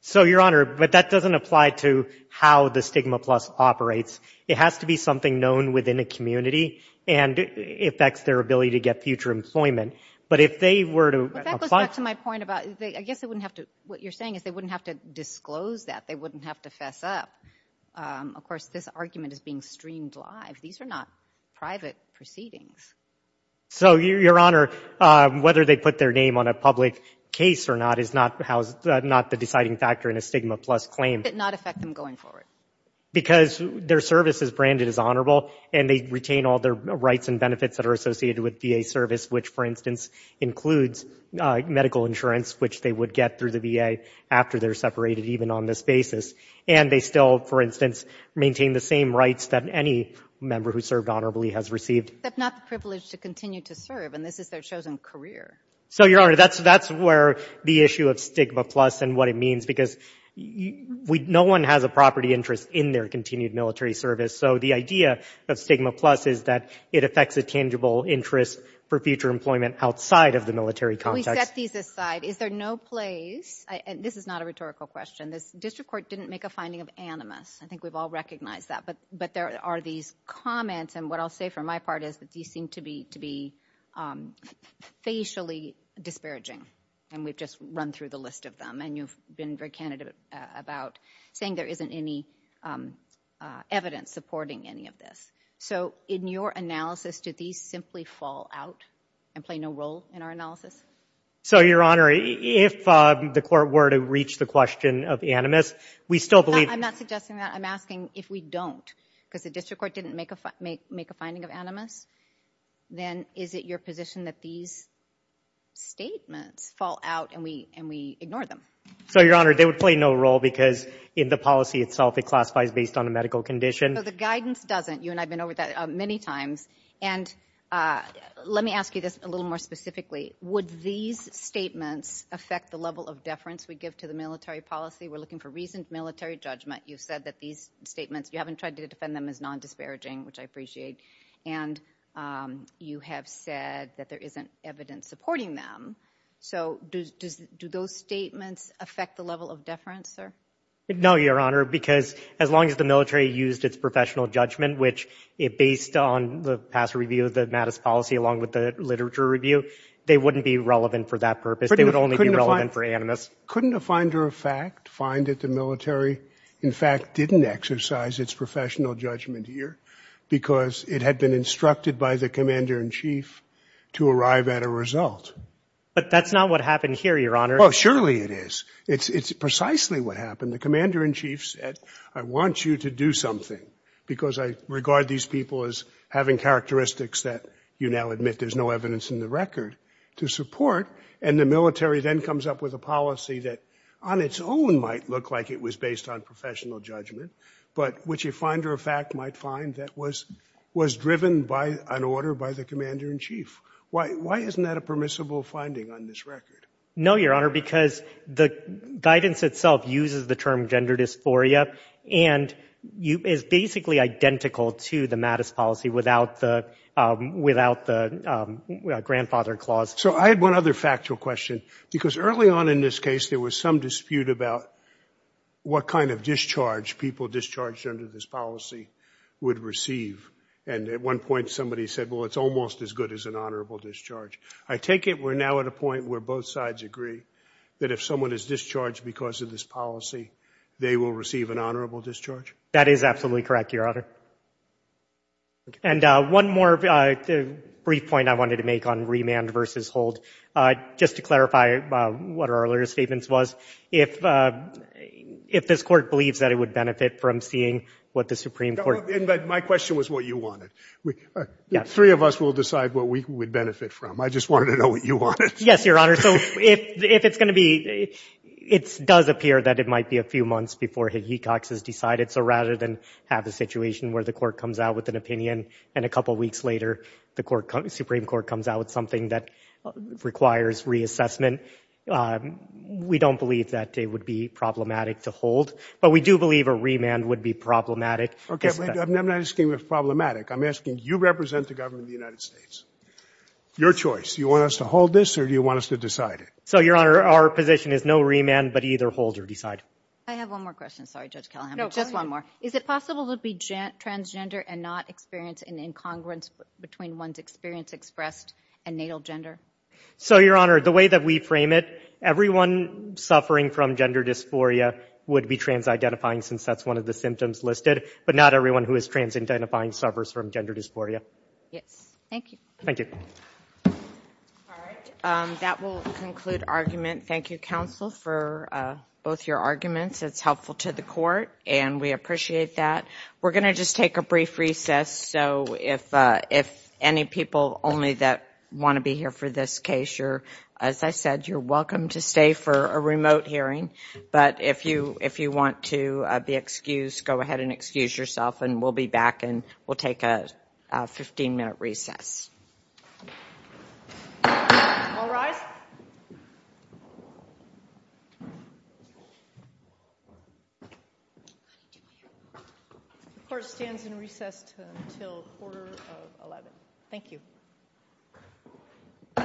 So, Your Honor, but that doesn't apply to how the Stigma Plus operates. It has to be something known within a community and it affects their ability to get future employment. But if they were to Well, that goes back to my point about, I guess they wouldn't have to, what you're saying is they wouldn't have to disclose that. They wouldn't have to fess up. Of course, this argument is being streamed live. These are not private proceedings. So, Your Honor, whether they put their name on a public case or not is not the deciding factor in a Stigma Plus claim. It did not affect them going forward. Because their service is branded as honorable and they retain all their rights and benefits that are associated with VA service, which, for instance, includes the medical insurance, which they would get through the VA after they're separated, even on this basis. And they still, for instance, maintain the same rights that any member who served honorably has received. That's not the privilege to continue to serve, and this is their chosen career. So, Your Honor, that's where the issue of Stigma Plus and what it means, because no one has a property interest in their continued military service. So, the idea of Stigma Plus is that it affects a tangible interest for future employment outside of the military context. So, we set these aside. Is there no place, and this is not a rhetorical question, the district court didn't make a finding of animus. I think we've all recognized that. But there are these comments, and what I'll say for my part is that these seem to be facially disparaging. And we've just run through the list of them. And you've been very candid about saying there isn't any evidence supporting any of this. So, in your analysis, did these simply fall out and play no role in our analysis? So, Your Honor, if the court were to reach the question of animus, we still believe... I'm not suggesting that. I'm asking if we don't. Because the district court didn't make a finding of animus. Then, is it your position that these statements fall out and we ignore them? So, Your Honor, they would play no role, because in the policy itself, it classifies based on a medical condition. So, the guidance doesn't. You and I have been over that many times. And let me ask you this a little more specifically. Would the district court say that these statements affect the level of deference we give to the military policy? We're looking for reasons. Military judgment. You said that these statements... You haven't tried to defend them as non-disparaging, which I appreciate. And you have said that there isn't evidence supporting them. So, do those statements affect the level of deference, sir? No, Your Honor. Because as long as the military used its professional judgment, which is based on the past review of the mattice policy along with the literature review, they wouldn't be related to They wouldn't be relevant for that purpose. They would only be relevant for animus. Couldn't a finder of fact find that the military, in fact, didn't exercise its professional judgment here because it had been instructed by the commander in chief to arrive at a result? But that's not what happened here, Your Honor. Oh, surely it is. It's precisely what happened. The commander in chief said, I want you to do something because I regard these people as having characteristics that you now admit there's no evidence in the record. To support that, I And the military then comes up with a policy that, on its own, might look like it was based on professional judgment, but which a finder of fact might find that was driven by an order by the commander in chief. Why isn't that a permissible finding on this record? No, Your Honor, because the guidance itself uses the term gender dysphoria, and it's basically identical to the mattice policy without the grandfather clause. So I had one other factual question, because early on in this case, there was some dispute about what kind of discharge people discharged under this policy would receive. And at one point, somebody said, well, it's almost as good as an honorable discharge. I take it we're now at a point where both sides agree that if someone is discharged because of this policy, they will receive an honorable discharge? That is absolutely correct, Your Honor. And one more brief point I wanted to make on remand versus hold. I think it's important to clarify what our earlier statements was. If this court believes that it would benefit from seeing what the Supreme Court believes... My question was what you wanted. The three of us will decide what we would benefit from. I just wanted to know what you wanted. Yes, Your Honor. So if it's going to be... It does appear that it might be a few months before his detox is decided. So rather than have a situation where the court comes out with an opinion, and a couple weeks later, the Supreme Court comes out with something that requires reassessment, we don't believe that it would be problematic to hold. But we do believe a remand would be problematic. I'm not asking if it's problematic. I'm asking you represent the government of the United States. Your choice. Do you want us to hold this or do you want us to decide it? So, Your Honor, our position is no remand, but either hold or decide. I have one more question. Sorry, Judge Callahan. No, go ahead. Just one more. Is it possible to be transgender and not experience an incongruence between one's experience expressed and natal gender? So, Your Honor, the way that we frame it, everyone suffering from gender dysphoria would be trans-identifying since that's one of the symptoms listed, but not everyone who is trans-identifying suffers from gender dysphoria. Yes. Thank you. Thank you. All right. That will conclude argument. Thank you, counsel, for both your arguments. It's helpful to the court, and we appreciate that. We're going to just take a brief recess, so if any people only that want to be here for this case, as I said, you're welcome to stay for a remote hearing. But if you want to be excused, go ahead and excuse yourself, and we'll be back and we'll take a 15-minute recess. All right. Court stands in recess until quarter of 11. Thank you. All right. Thank you. Thank you. Thank you.